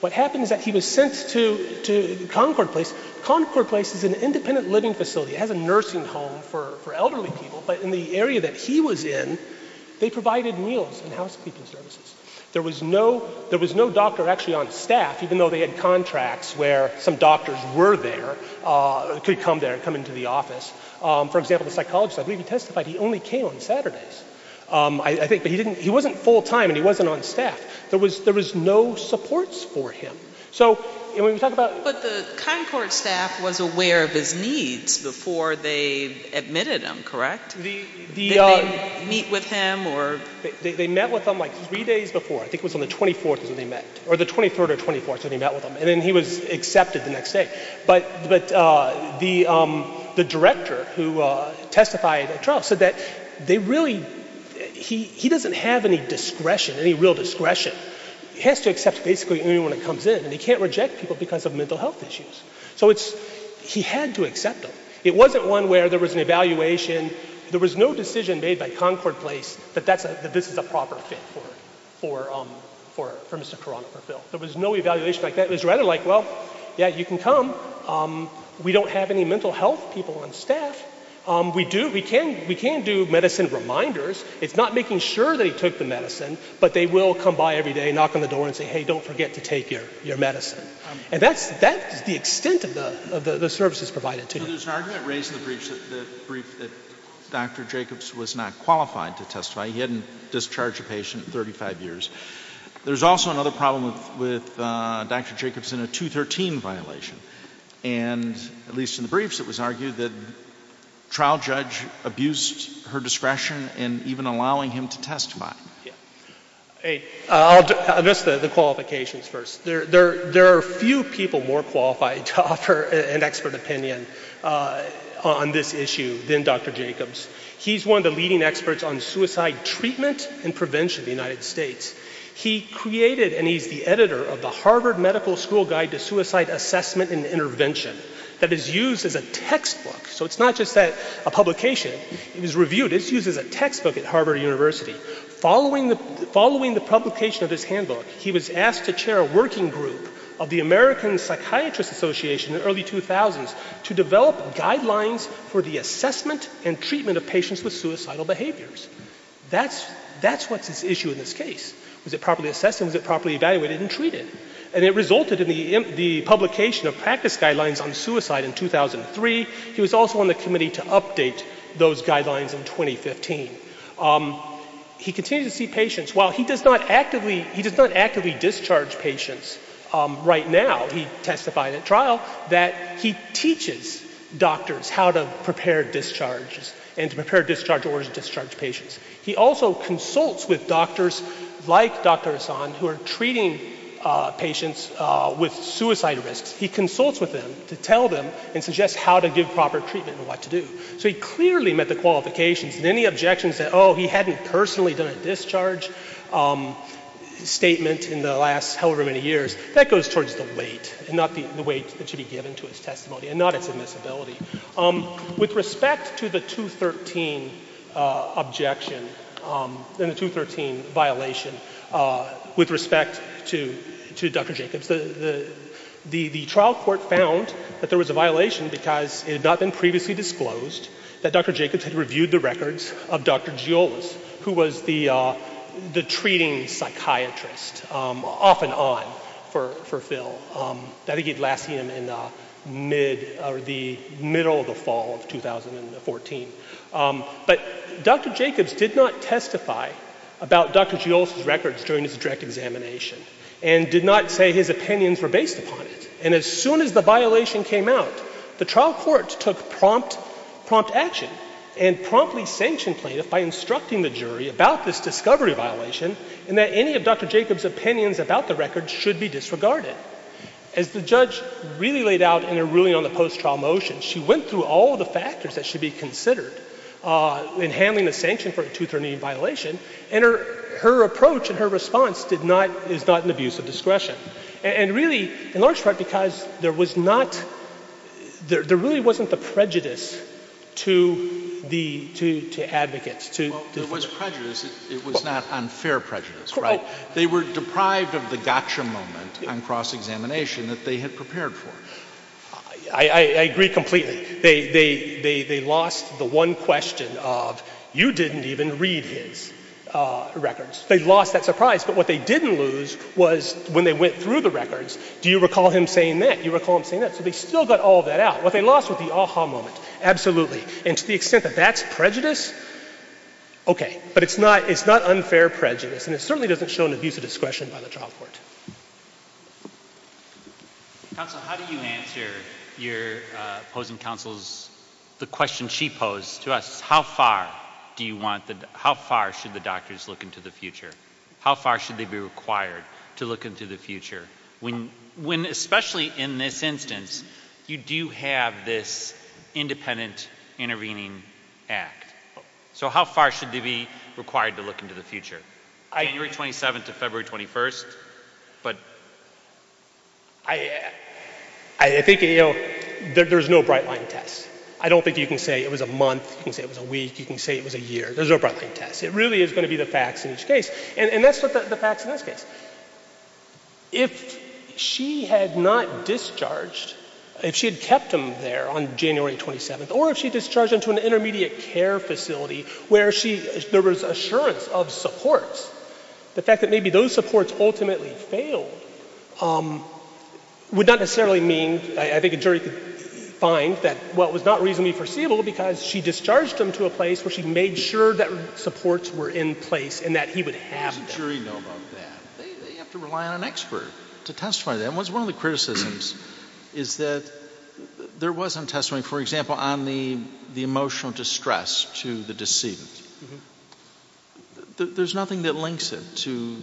What happened is that he was sent to Concord Place. Concord Place is an independent living facility. It has a nursing home for elderly people, but in the area that he was in, they provided meals and housekeeping services. There was no doctor actually on staff, even though they had contracts where some doctors were there to come there, come into the office. For example, the psychologist, I believe, testified he only came on Saturdays. He wasn't full-time and he wasn't on staff. There was no supports for him. But the Concord staff was aware of his needs before they admitted him, correct? Did they meet with him? They met with him like three days before. I think it was on the 23rd or 24th that he met with him, and then he was accepted the next day. But the director who testified at trial said that he doesn't have any discretion, any real discretion. He has to accept basically anyone that comes in, and he can't reject people because of mental health issues. So he had to accept them. It wasn't one where there was an evaluation. There was no decision made by Concord Place that this is a proper fit for Mr. Coronavirill. There was no evaluation like that. It was rather like, well, yeah, you can come. We don't have any mental health people on staff. We can do medicine reminders. It's not making sure they took the medicine, but they will come by every day, knock on the door and say, hey, don't forget to take your medicine. And that's the extent of the services provided to you. So there's an argument raised in the brief that Dr. Jacobs was not qualified to testify. He hadn't discharged a patient in 35 years. There's also another problem with Dr. Jacobs in a 213 violation, and at least in the briefs it was argued that a trial judge abused her discretion and even allowing him to testify. I'll address the qualifications first. There are few people more qualified to offer an expert opinion on this issue than Dr. Jacobs. He's one of the leading experts on suicide treatment and prevention in the United States. He created and he's the editor of the Harvard Medical School Guide to Suicide Assessment and Intervention that is used as a textbook. So it's not just a publication. It was reviewed. It's used as a textbook at Harvard University. Following the publication of this handbook, he was asked to chair a working group of the American Psychiatrist Association in the early 2000s to develop guidelines for the assessment and treatment of patients with suicidal behaviors. That's what's at issue in this case. Is it properly assessed and is it properly evaluated and treated? And it resulted in the publication of practice guidelines on suicide in 2003. He was also on the committee to update those guidelines in 2015. He continued to see patients. While he does not actively discharge patients right now, he testified at trial that he teaches doctors how to prepare discharges and to prepare discharge orders to discharge patients. He also consults with doctors like Dr. Hassan who are treating patients with suicide risks. He consults with them to tell them and suggest how to give proper treatment and what to do. So he clearly met the qualifications. Many objections that, oh, he hadn't personally done a discharge statement in the last however many years, that goes towards the weight and not the weight that should be given to his testimony and not a permissibility. With respect to the 213 objection and the 213 violation, with respect to Dr. Jacobs, the trial court found that there was a violation because it had not been previously disclosed that Dr. Jacobs had reviewed the records of Dr. Giolos, who was the treating psychiatrist, off and on for Phil. That he gave last year in the middle of the fall of 2014. But Dr. Jacobs did not testify about Dr. Giolos' records during his direct examination and did not say his opinions were based upon it. And as soon as the violation came out, the trial court took prompt action and promptly sanctioned plaintiff by instructing the jury about this discovery violation and that any of Dr. Jacobs' opinions about the records should be disregarded. As the judge really laid out in her ruling on the post-trial motion, she went through all the factors that should be considered in handling the sanction for a 213 violation, and her approach and her response is not an abuse of discretion. And really, in large part, because there really wasn't a prejudice to advocates. Well, there was a prejudice. It was not unfair prejudice, right? They were deprived of the gotcha moment on cross-examination that they had prepared for. I agree completely. They lost the one question of you didn't even read his records. They lost that surprise, but what they didn't lose was when they went through the records, do you recall him saying that? Do you recall him saying that? So they still got all that out. What they lost was the aha moment, absolutely. And to the extent that that's prejudice, okay. But it's not unfair prejudice, and it certainly doesn't show an abuse of discretion by the trial court. Counsel, how do you answer your opposing counsel's, the question she posed to us, how far should the doctors look into the future? How far should they be required to look into the future? When, especially in this instance, you do have this independent intervening act. So how far should they be required to look into the future? January 27th to February 21st. I think there's no bright line test. I don't think you can say it was a month. You can say it was a week. You can say it was a year. There's no bright line test. It really is going to be the facts in this case, and that's the facts in this case. If she had not discharged, if she had kept him there on January 27th, or if she discharged him to an intermediate care facility where there was assurance of support, the fact that maybe those supports ultimately failed would not necessarily mean, I think a jury could find that, well, it was not reasonably foreseeable because she discharged him to a place where she made sure that supports were in place and that he would have them. How does the jury know about that? They have to rely on an expert to testify to that. One of the criticisms is that there wasn't testimony, for example, on the emotional distress to the deceased. There's nothing that links it to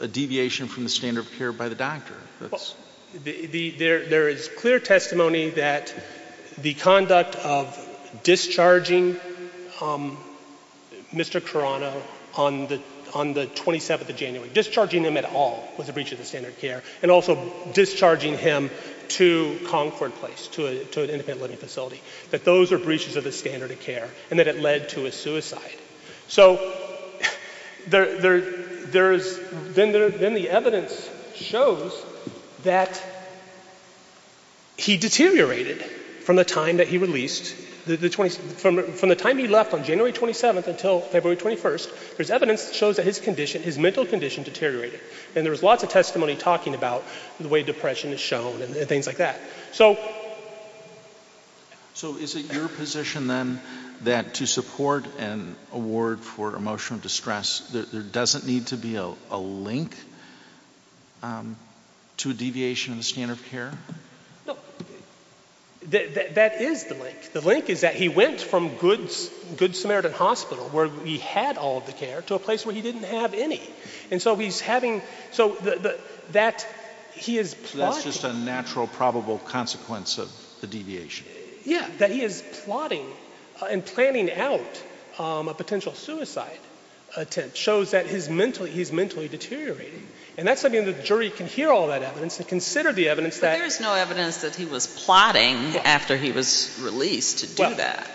a deviation from the standard of care by the doctor. There is clear testimony that the conduct of discharging Mr. Carano on the 27th of January, discharging him at all was a breach of the standard of care, and also discharging him to Concord Place, to an independent living facility, that those were breaches of the standard of care and that it led to his suicide. So then the evidence shows that he deteriorated from the time that he released, from the time he left on January 27th until February 21st, there's evidence that shows that his mental condition deteriorated. And there's lots of testimony talking about the way depression is shown and things like that. So is it your position then that to support an award for emotional distress, there doesn't need to be a link to a deviation in the standard of care? That is the link. The link is that he went from Good Samaritan Hospital, where he had all of the care, to a place where he didn't have any. And so he's having, so that he is plotting. That's just a natural probable consequence of the deviation. Yeah, that he is plotting and planning out a potential suicide attempt shows that he's mentally deteriorating. And that's something the jury can hear all that evidence and consider the evidence that There's no evidence that he was plotting after he was released to do that.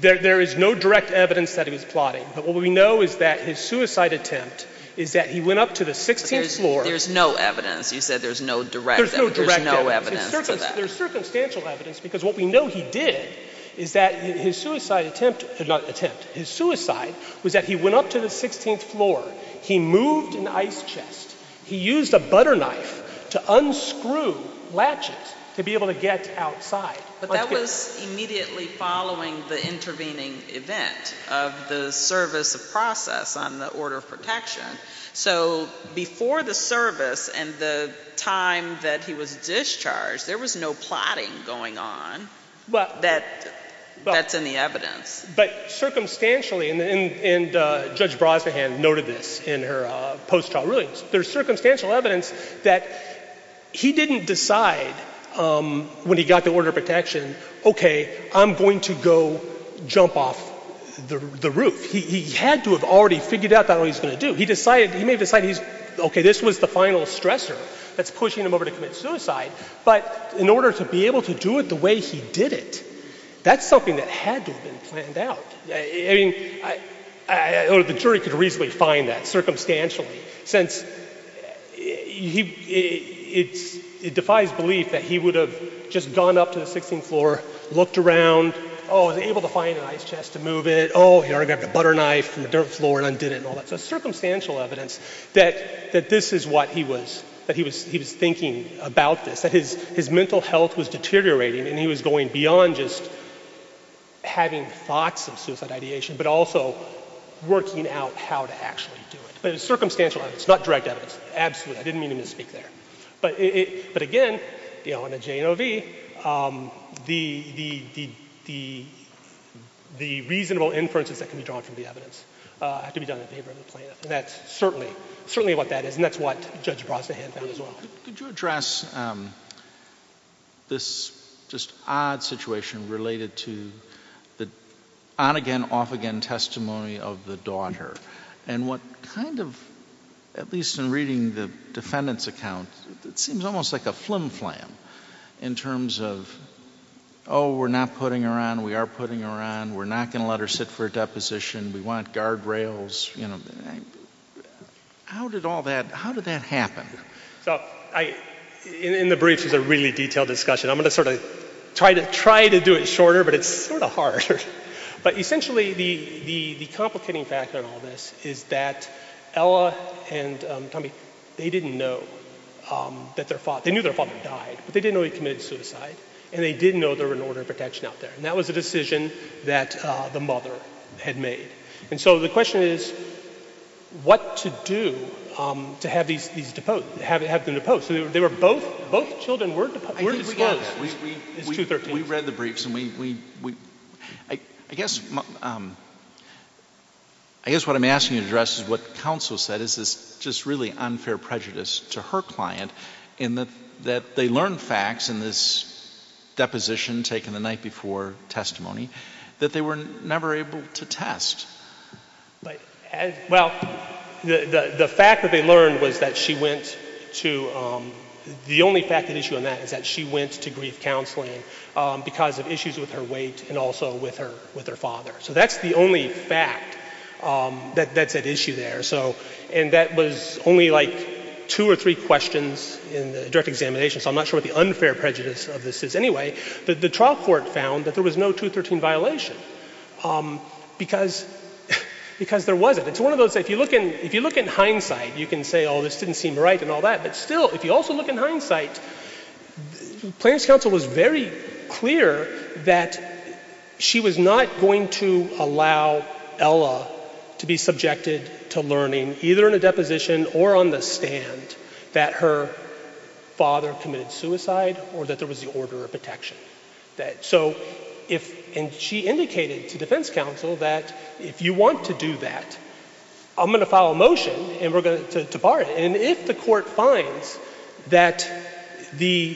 There is no direct evidence that he was plotting. But what we know is that his suicide attempt is that he went up to the 16th floor. There's no evidence. You said there's no direct evidence. There's no direct evidence. There's circumstantial evidence. Because what we know he did is that his suicide attempt, not attempt, his suicide was that he went up to the 16th floor. He moved an ice chest. He used a butter knife to unscrew latches to be able to get outside. But that was immediately following the intervening event of the service process on the order of protection. So before the service and the time that he was discharged, there was no plotting going on that's in the evidence. But circumstantially, and Judge Brozahan noted this in her post-trial ruling, there's circumstantial evidence that he didn't decide when he got the order of protection, okay, I'm going to go jump off the roof. He had to have already figured out what he was going to do. He may have decided, okay, this was the final stressor that's pushing him over to commit suicide. But in order to be able to do it the way he did it, that's something that had to have been planned out. I mean, I would have been sure he could reasonably find that circumstantially, since it defies belief that he would have just gone up to the 16th floor, looked around, oh, was able to find an ice chest to move it, oh, here I got the butter knife from the dirt floor and undid it and all that. So circumstantial evidence that this is what he was thinking about this, that his mental health was deteriorating and he was going beyond just having thoughts of suicide ideation, but also working out how to actually do it. But it's circumstantial evidence, not direct evidence. Absolutely, I didn't mean to misspeak there. But again, you know, in a JNOV, the reasonable inferences that can be drawn from the evidence have to be done in favor of the plaintiff, and that's certainly what that is, and that's what Judge Brozahan found as well. Could you address this just odd situation related to the on-again, off-again testimony of the daughter? And what kind of, at least in reading the defendant's account, it seems almost like a flim-flam in terms of, oh, we're not putting her on, we are putting her on, we're not going to let her sit for a deposition, we want guardrails, you know. How did all that, how did that happen? In the briefs, there's a really detailed discussion. I'm going to sort of try to do it shorter, but it's sort of hard. But essentially, the complicating factor in all this is that Ella and Tommy, they didn't know that their father, they knew their father died, but they didn't know he committed suicide, and they didn't know there was an order of protection out there. And that was the decision that the mother had made. And so the question is what to do to have these deposed, have them deposed. They were both, both children were deposed. I think we got that. It's 213. We read the briefs, and we, I guess what I'm asking you to address is what counsel said. It's just really unfair prejudice to her client in that they learned facts in this deposition taken the night before testimony that they were never able to test. Right. Well, the fact that they learned was that she went to, the only fact of the issue in that is that she went to grief counseling because of issues with her weight and also with her father. So that's the only fact, that issue there. So, and that was only like two or three questions in the direct examination, so I'm not sure what the unfair prejudice of this is anyway. The trial court found that there was no 213 violation because there wasn't. It's one of those, if you look in hindsight, you can say, oh, this didn't seem right and all that. But still, if you also look in hindsight, plaintiff's counsel was very clear that she was not going to allow Ella to be subjected to learning, either in a deposition or on the stand, that her father committed suicide or that there was the order of protection. So if, and she indicated to defense counsel that if you want to do that, I'm going to file a motion and we're going to bar it. And if the court finds that the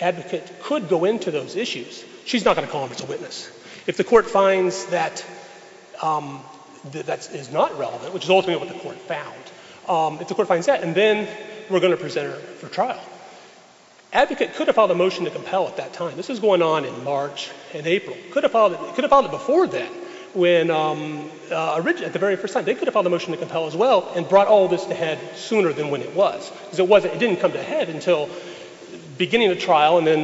advocate could go into those issues, she's not going to call him as a witness. If the court finds that that is not relevant, which is ultimately what the court found, if the court finds that, and then we're going to present her for trial. Advocate could have filed a motion to compel at that time. This is going on in March and April. Could have filed it before then when originally, at the very first time, they could have filed a motion to compel as well and brought all of this ahead sooner than when it was. It didn't come to head until beginning of trial, and then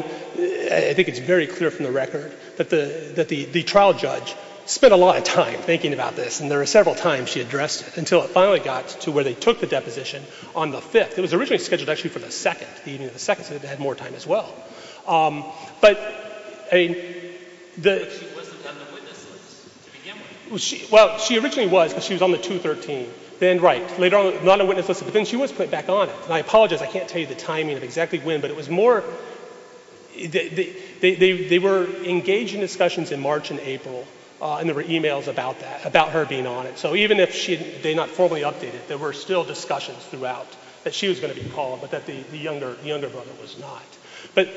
I think it's very clear from the record, that the trial judge spent a lot of time thinking about this. And there were several times she addressed it until it finally got to where they took the deposition on the 5th. It was originally scheduled actually for the 2nd, the evening of the 2nd, so they had more time as well. But a, the. She wasn't on the witness list. Well, she originally was because she was on the 2-13. Then, right, later on, not on the witness list, but then she was put back on it. And I apologize, I can't tell you the timing of exactly when, but it was more, they were engaging in discussions in March and April, and there were e-mails about that, about her being on it. So even if they had not formally updated, there were still discussions throughout that she was going to be called, but that the younger woman was not. But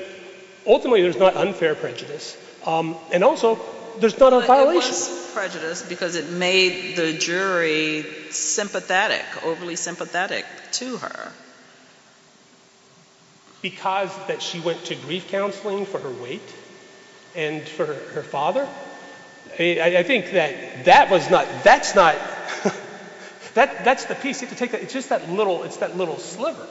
ultimately, it was not unfair prejudice. And also, there's not a violation. But it wasn't prejudice because it made the jury sympathetic, overly sympathetic to her. Because that she went to grief counseling for her weight, and for her father. I think that that was not, that's not, that's, it's just that little, it's that little sliver.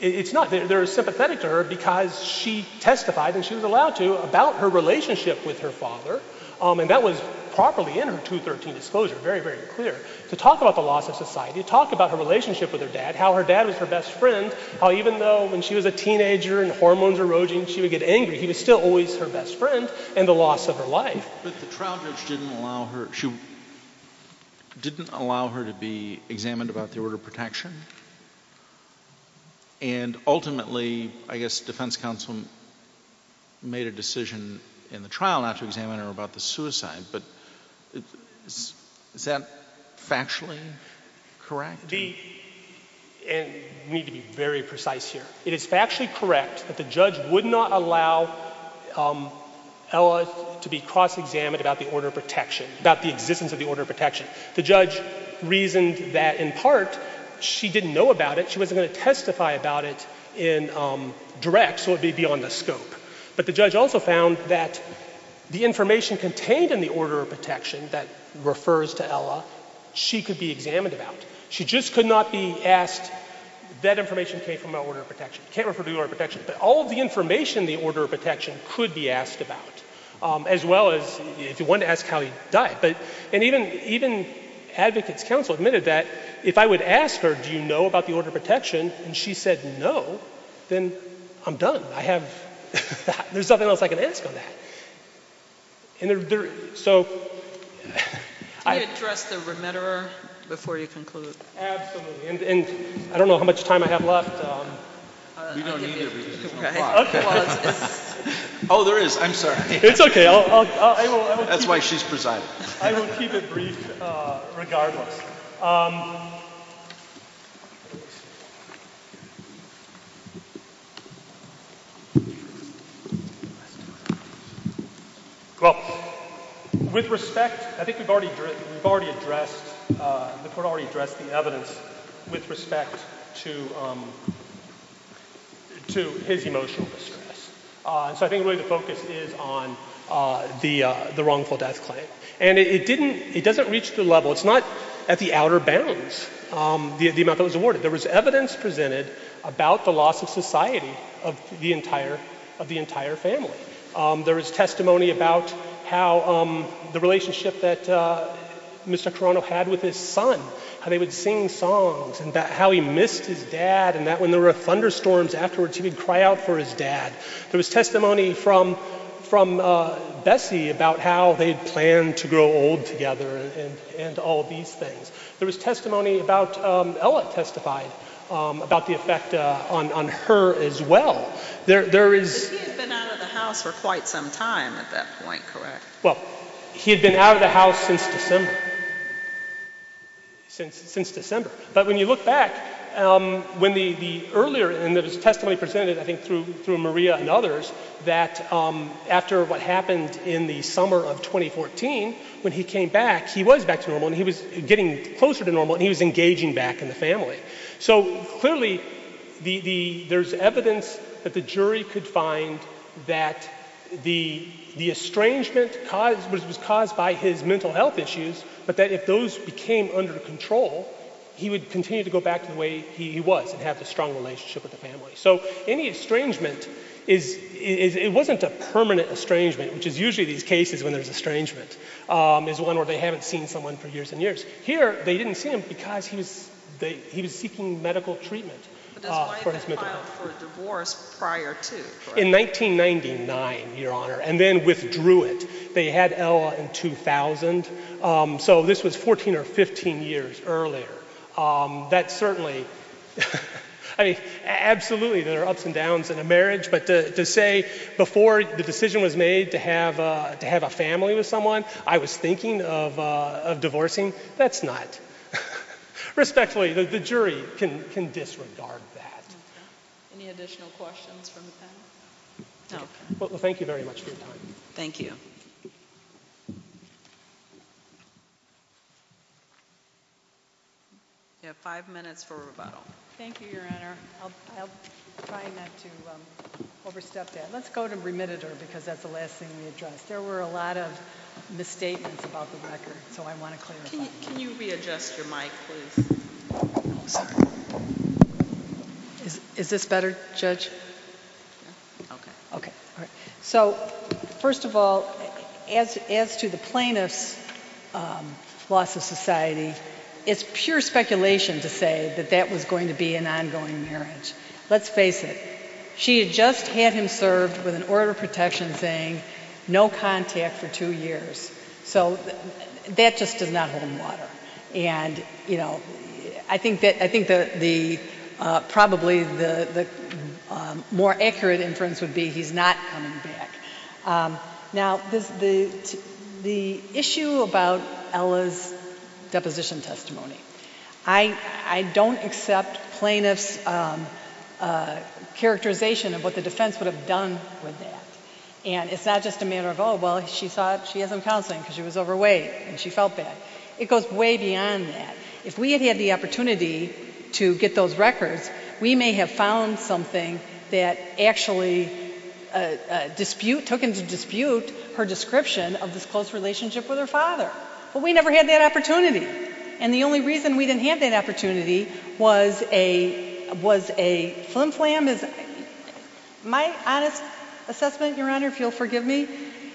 It's not, they were sympathetic to her because she testified, and she was allowed to, about her relationship with her father, and that was properly in her 2-13 disclosure, very, very clear, to talk about the loss of society, to talk about her relationship with her dad, how her dad was her best friend, how even though when she was a teenager, and hormones were eroding, she would get angry, he was still always her best friend, and the loss of her life. But the trial judge didn't allow her, didn't allow her to be examined about the order of protection? And ultimately, I guess defense counsel made a decision in the trial after examining her about the suicide, but is that factually correct? The, and we need to be very precise here. It is factually correct that the judge would not allow Ellis to be cross-examined about the order of protection, about the existence of the order of protection. The judge reasoned that in part she didn't know about it, she wasn't going to testify about it in direct, so it would be beyond the scope. But the judge also found that the information contained in the order of protection that refers to Ella, she could be examined about. She just could not be asked, that information came from the order of protection, can't refer to the order of protection, but all of the information in the order of protection could be asked about, as well as if you wanted to ask how he died. But, and even, even advocate counsel admitted that if I would ask her, do you know about the order of protection, and she said no, then I'm done. I have, there's nothing else I can ask on that. So. Can you address the remitterer before you conclude? Absolutely. And I don't know how much time I have left. You don't need to. Oh, there is. I'm sorry. It's okay. That's why she's precise. I will keep it brief regardless. Well, with respect, I think we've already addressed the evidence with respect to his emotional distress. So I think the way to focus is on the wrongful death claim. And it didn't, it doesn't reach the level, it's not at the outer bounds, the amount that was awarded. There was evidence presented about the loss of society of the entire, of the entire family. There was testimony about how the relationship that Mr. Toronto had with his son, how they would sing songs, and how he missed his dad, and that when there were thunderstorms afterwards, he would cry out for his dad. There was testimony from, from Bessie about how they planned to grow old together and all these things. There was testimony about, Ella testified about the effect on, on her as well. There, there is. He had been out of the house for quite some time at that point, correct? Well, he had been out of the house since December. Since, since December. But when you look back, when the, the earlier, and there was testimony presented I think through, through Maria and others, that after what happened in the summer of 2014, when he came back, he was back to normal, and he was getting closer to normal, and he was engaging back in the family. So clearly, the, the, there's evidence that the jury could find that the, the estrangement caused, which was caused by his mental health issues, but that if those became under control, he would continue to go back to the way he was and have a strong relationship with the family. So any estrangement is, is, it wasn't a permanent estrangement, which is usually these cases when there's estrangement, is one where they haven't seen someone for years and years. Here, they didn't see him because he was, they, he was seeking medical treatment for his mental health. The child was divorced prior to. In 1999, Your Honor, and then withdrew it. They had Ella in 2000. So this was 14 or 15 years earlier. That certainly, I mean, absolutely, there are ups and downs in a marriage, but to say before the decision was made to have, to have a family with someone, I was thinking of, of divorcing, that's not, respectfully, the jury can, can disregard that. Any additional questions from the panel? No. Well, thank you very much, Your Honor. Thank you. You have five minutes for rebuttal. Thank you, Your Honor. I'll, I'll try not to overstep that. Let's go to remitted her because that's the last thing we addressed. There were a lot of misstatements about the record, so I want to clear them up. Can you readjust your mic, please? Is, is this better, Judge? Okay. Okay. So, first of all, as, as to the plaintiff's loss of society, it's pure speculation to say that that was going to be an ongoing marriage. Let's face it. She had just had him served with an order of protection saying no contact for two years. So that's just a leveled matter. And, you know, I think that, I think that the, probably the more accurate inference would be he's not coming back. Now, the, the issue about Ella's deposition testimony, I, I don't accept plaintiff's characterization of what the defense would have done with that. And it's not just a matter of, oh, well, she thought she had some counseling because she was overweight and she felt bad. It goes way beyond that. If we had had the opportunity to get those records, we may have found something that actually dispute, took into dispute her description of this close relationship with her father. But we never had that opportunity. And the only reason we didn't have that opportunity was a, was a flim flam. My honest assessment, Your Honor, if you'll forgive me,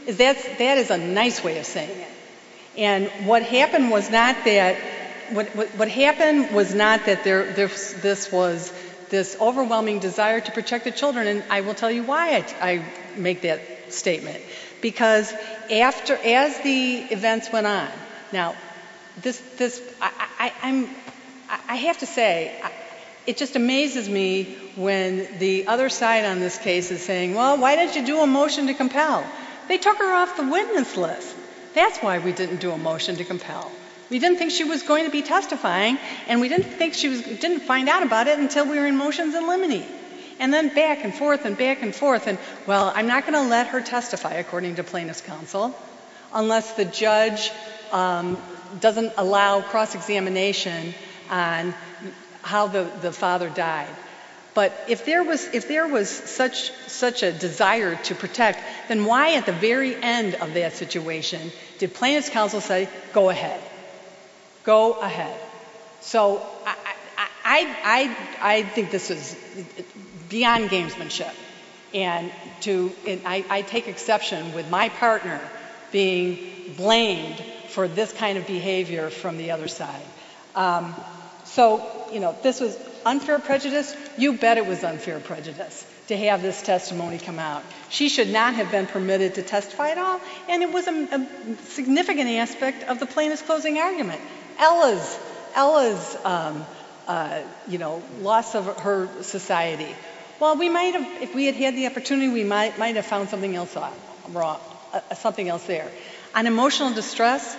is that, that is a nice way of saying it. And what happened was not that, what happened was not that there, this was this overwhelming desire to protect the children. And I will tell you why I make that statement. Because after, as the events went on, now, this, this, I, I, I'm, I have to say, it just amazes me when the other side on this case is saying, well, why didn't you do a motion to compel? They took her off the witness list. That's why we didn't do a motion to compel. We didn't think she was going to be testifying, and we didn't think she was, didn't find out about it until we were in motions in limine. And then back and forth and back and forth. And, well, I'm not going to let her testify, according to plaintiff's counsel, unless the judge doesn't allow cross-examination on how the, the father died. But if there was, if there was such, such a desire to protect, then why at the very end of that situation did plaintiff's counsel say, go ahead? Go ahead. So I, I, I, I think this is beyond gamesmanship. And to, and I, I take exception with my partner being blamed for this kind of behavior from the other side. So, you know, this is unfair prejudice. You bet it was unfair prejudice to have this testimony come out. She should not have been permitted to testify at all, and it was a significant aspect of the plaintiff's closing argument. Ella's, Ella's, you know, loss of her society. Well, we might have, if we had had the opportunity, we might, might have found something else off, something else there. On emotional distress,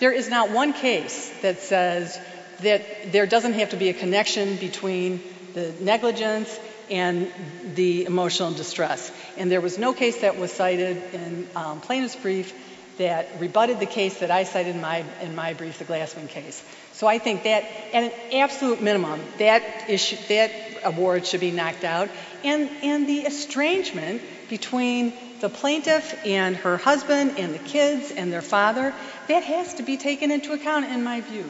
there is not one case that says that there doesn't have to be a connection between the negligence and the emotional distress. And there was no case that was cited in plaintiff's brief that rebutted the case that I cited in my, in my brief, the Glassman case. So I think that, at an absolute minimum, that issue, that award should be knocked out. And, and the estrangement between the plaintiff and her husband and the kids and their father, that has to be taken into account, in my view,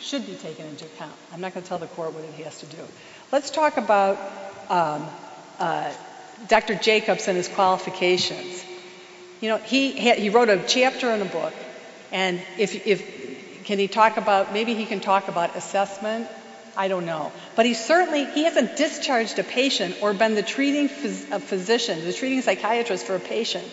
should be taken into account. I'm not going to tell the court what he has to do. Let's talk about Dr. Jacobson's qualifications. You know, he, he wrote a chapter in a book, and if, if, can he talk about, maybe he can talk about assessment, I don't know. But he certainly, he hasn't discharged a patient or been the treating physician, the treating psychiatrist for a patient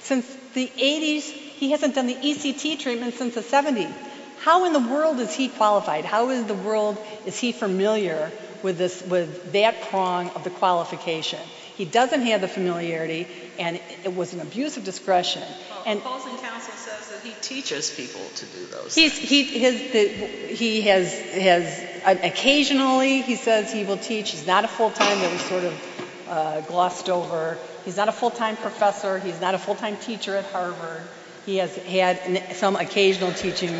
since the 80s. He hasn't been the ECT teacher even since the 70s. How in the world is he qualified? How in the world is he familiar with this, with that prong of the qualification? He doesn't have the familiarity, and it was an abuse of discretion. Fulton Township says that he teaches people to do those. He, he, his, he has, has, occasionally he says he will teach. He's not a full-time, that he sort of glossed over. He's not a full-time professor. He's not a full-time teacher at Harvard. He has had some occasional teaching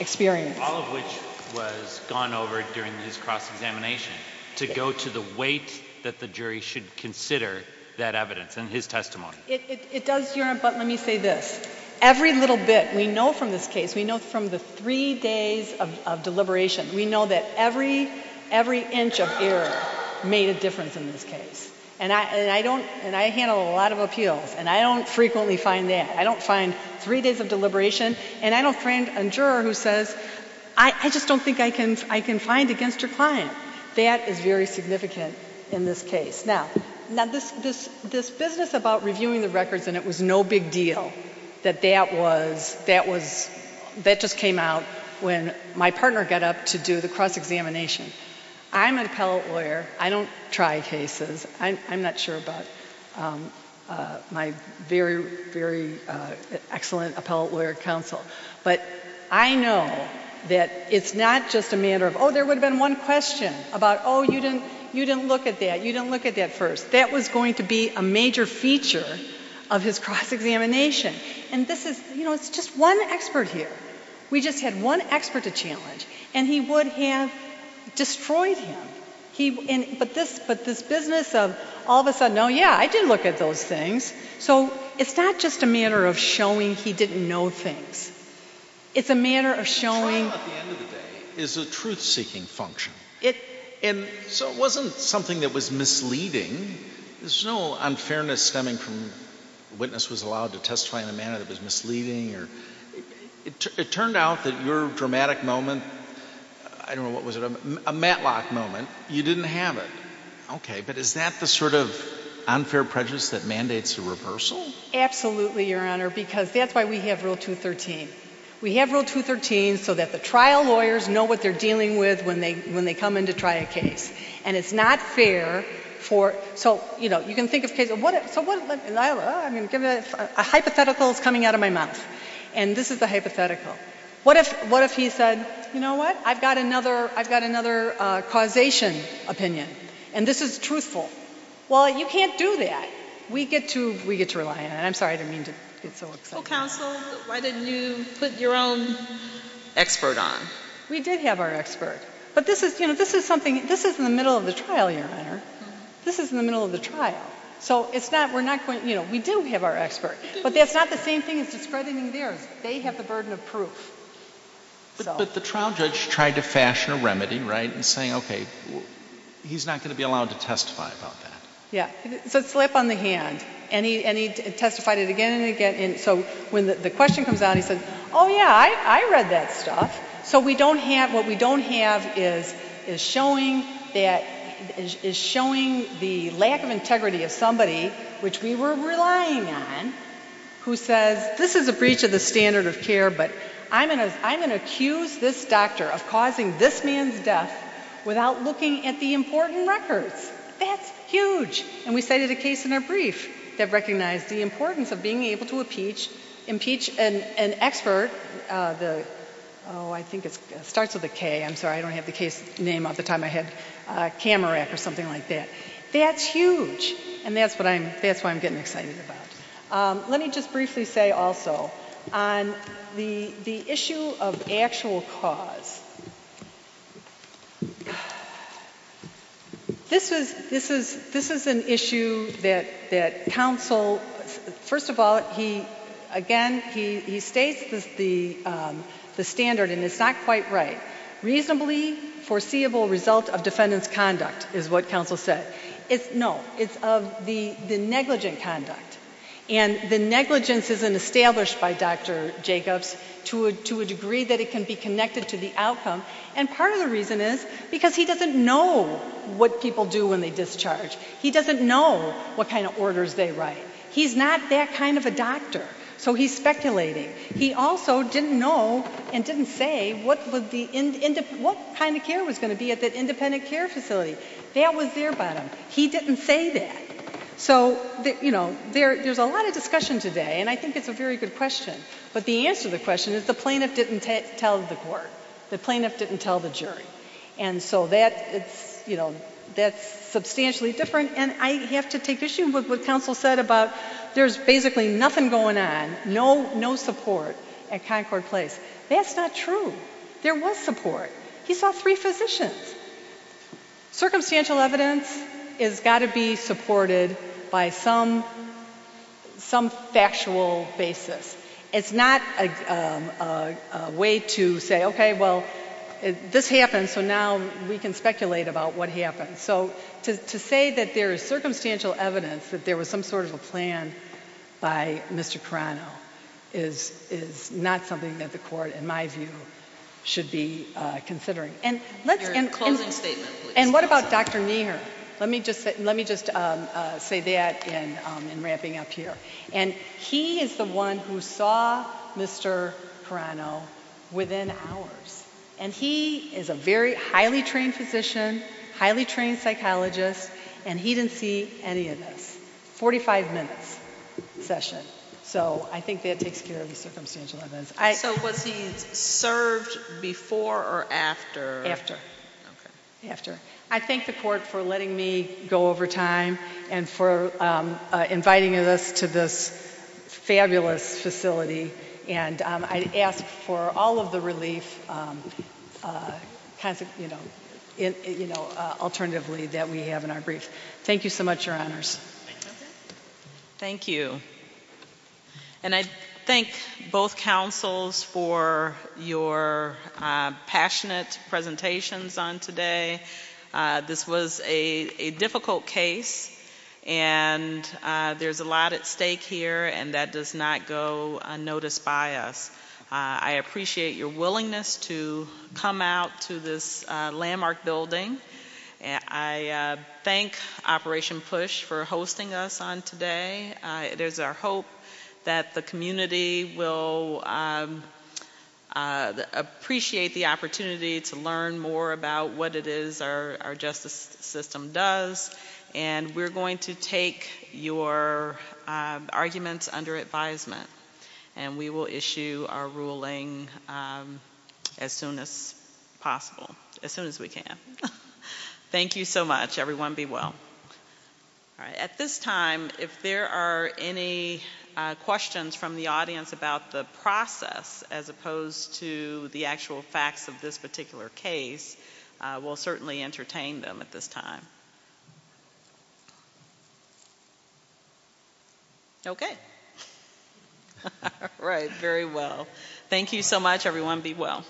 experience. All of which was gone over during his cross-examination, to go to the weight that the jury should consider that evidence in his testimony. It, it, it does, but let me say this. Every little bit, we know from this case, we know from the three days of, of deliberation, we know that every, every inch of error made a difference in this case. And I, and I don't, and I handle a lot of appeals, and I don't frequently find that. I don't find three days of deliberation, and I don't find a juror who says, I, I just don't think I can, I can find against your client. That is very significant in this case. Now, now this, this, this business about reviewing the records, and it was no big deal, that that was, that was, that just came out when my partner got up to do the cross-examination. I'm an appellate lawyer. I don't try cases. I'm, I'm not sure about my very, very excellent appellate lawyer counsel. But I know that it's not just a matter of, oh, there would have been one question about, oh, you didn't, you didn't look at that, you didn't look at that first. That was going to be a major feature of his cross-examination. And this is, you know, it's just one expert here. We just had one expert to challenge, and he would have destroyed him. He, and, but this, but this business of all of a sudden, oh, yeah, I did look at those things. So it's not just a matter of showing he didn't know things. It's a matter of showing. It's a truth-seeking function. So it wasn't something that was misleading. There's no unfairness stemming from the witness was allowed to testify in a manner that was misleading. It turned out that your dramatic moment, I don't know, what was it, a Matlock moment, you didn't have it. Okay. But is that the sort of unfair prejudice that mandates a reversal? Absolutely, Your Honor, because that's why we have Rule 213. We have Rule 213 so that the trial lawyers know what they're dealing with when they come in to try a case. And it's not fair for, so, you know, you can think of cases. I mean, a hypothetical is coming out of my mouth. And this is a hypothetical. What if he said, you know what, I've got another causation opinion, and this is truthful. Well, you can't do that. We get to rely on it. I'm sorry the name is so expensive. Counsel, why didn't you put your own expert on? We did have our expert. But this is, you know, this is something, this is in the middle of the trial, Your Honor. This is in the middle of the trial. So it's not, we're not going to, you know, we do have our expert. But that's not the same thing as just spreading them there. They have the burden of proof. But the trial judge tried to fashion a remedy, right, in saying, okay, he's not going to be allowed to testify about that. Yeah. The slip on the hand. And he testified it again and again. So when the question comes out, he says, oh, yeah, I read that stuff. So we don't have, what we don't have is showing that, is showing the lack of integrity of somebody, which we were relying on, who says, this is a breach of the standard of care, but I'm going to accuse this doctor of causing this man's death without looking at the important records. That's huge. And we cited a case in our brief that recognized the importance of being able to impeach an expert. The, oh, I think it starts with a K. I'm sorry, I don't have the case name of the time I had a camera or something like that. That's huge. And that's what I'm, that's what I'm getting excited about. Let me just briefly say also on the issue of actual cause. This is an issue that counsel, first of all, he, again, he states the standard, and it's not quite right. Reasonably foreseeable result of defendant's conduct is what counsel said. No, it's of the negligent conduct. And the negligence isn't established by Dr. Jacobs to a degree that it can be connected to the outcome. And part of the reason is because he doesn't know what people do when they discharge. He doesn't know what kind of orders they write. He's not that kind of a doctor, so he's speculating. He also didn't know and didn't say what was the, what kind of care was going to be at that independent care facility. That was their bottom. He didn't say that. So, you know, there's a lot of discussion today, and I think it's a very good question. But the answer to the question is the plaintiff didn't tell the court. The plaintiff didn't tell the jury. And so that, you know, that's substantially different. And I have to take issue with what counsel said about there's basically nothing going on, no support at Concord Place. That's not true. There was support. He saw three physicians. Circumstantial evidence has got to be supported by some factual basis. It's not a way to say, okay, well, this happened, so now we can speculate about what happened. So to say that there is circumstantial evidence that there was some sort of a plan by Mr. Carano is not something that the court, in my view, should be considering. And what about Dr. Meagher? Let me just say that in ramping up here. And he is the one who saw Mr. Carano within hours. And he is a very highly trained physician, highly trained psychologist, and he didn't see any of it. 45-minute session. So I think that takes care of the circumstantial evidence. So was he served before or after? After. I thank the court for letting me go over time and for inviting us to this fabulous facility. And I ask for all of the relief, you know, alternatively, that we have in our brief. Thank you so much, Your Honors. Thank you. And I thank both councils for your passionate presentations on today. This was a difficult case, and there's a lot at stake here, and that does not go unnoticed by us. I appreciate your willingness to come out to this landmark building. I thank Operation PUSH for hosting us on today. It is our hope that the community will appreciate the opportunity to learn more about what it is our justice system does. And we're going to take your arguments under advisement, and we will issue our ruling as soon as possible, as soon as we can. Thank you so much, everyone. Be well. At this time, if there are any questions from the audience about the process, as opposed to the actual facts of this particular case, we'll certainly entertain them at this time. Okay. All right. Very well. Thank you so much, everyone. Be well.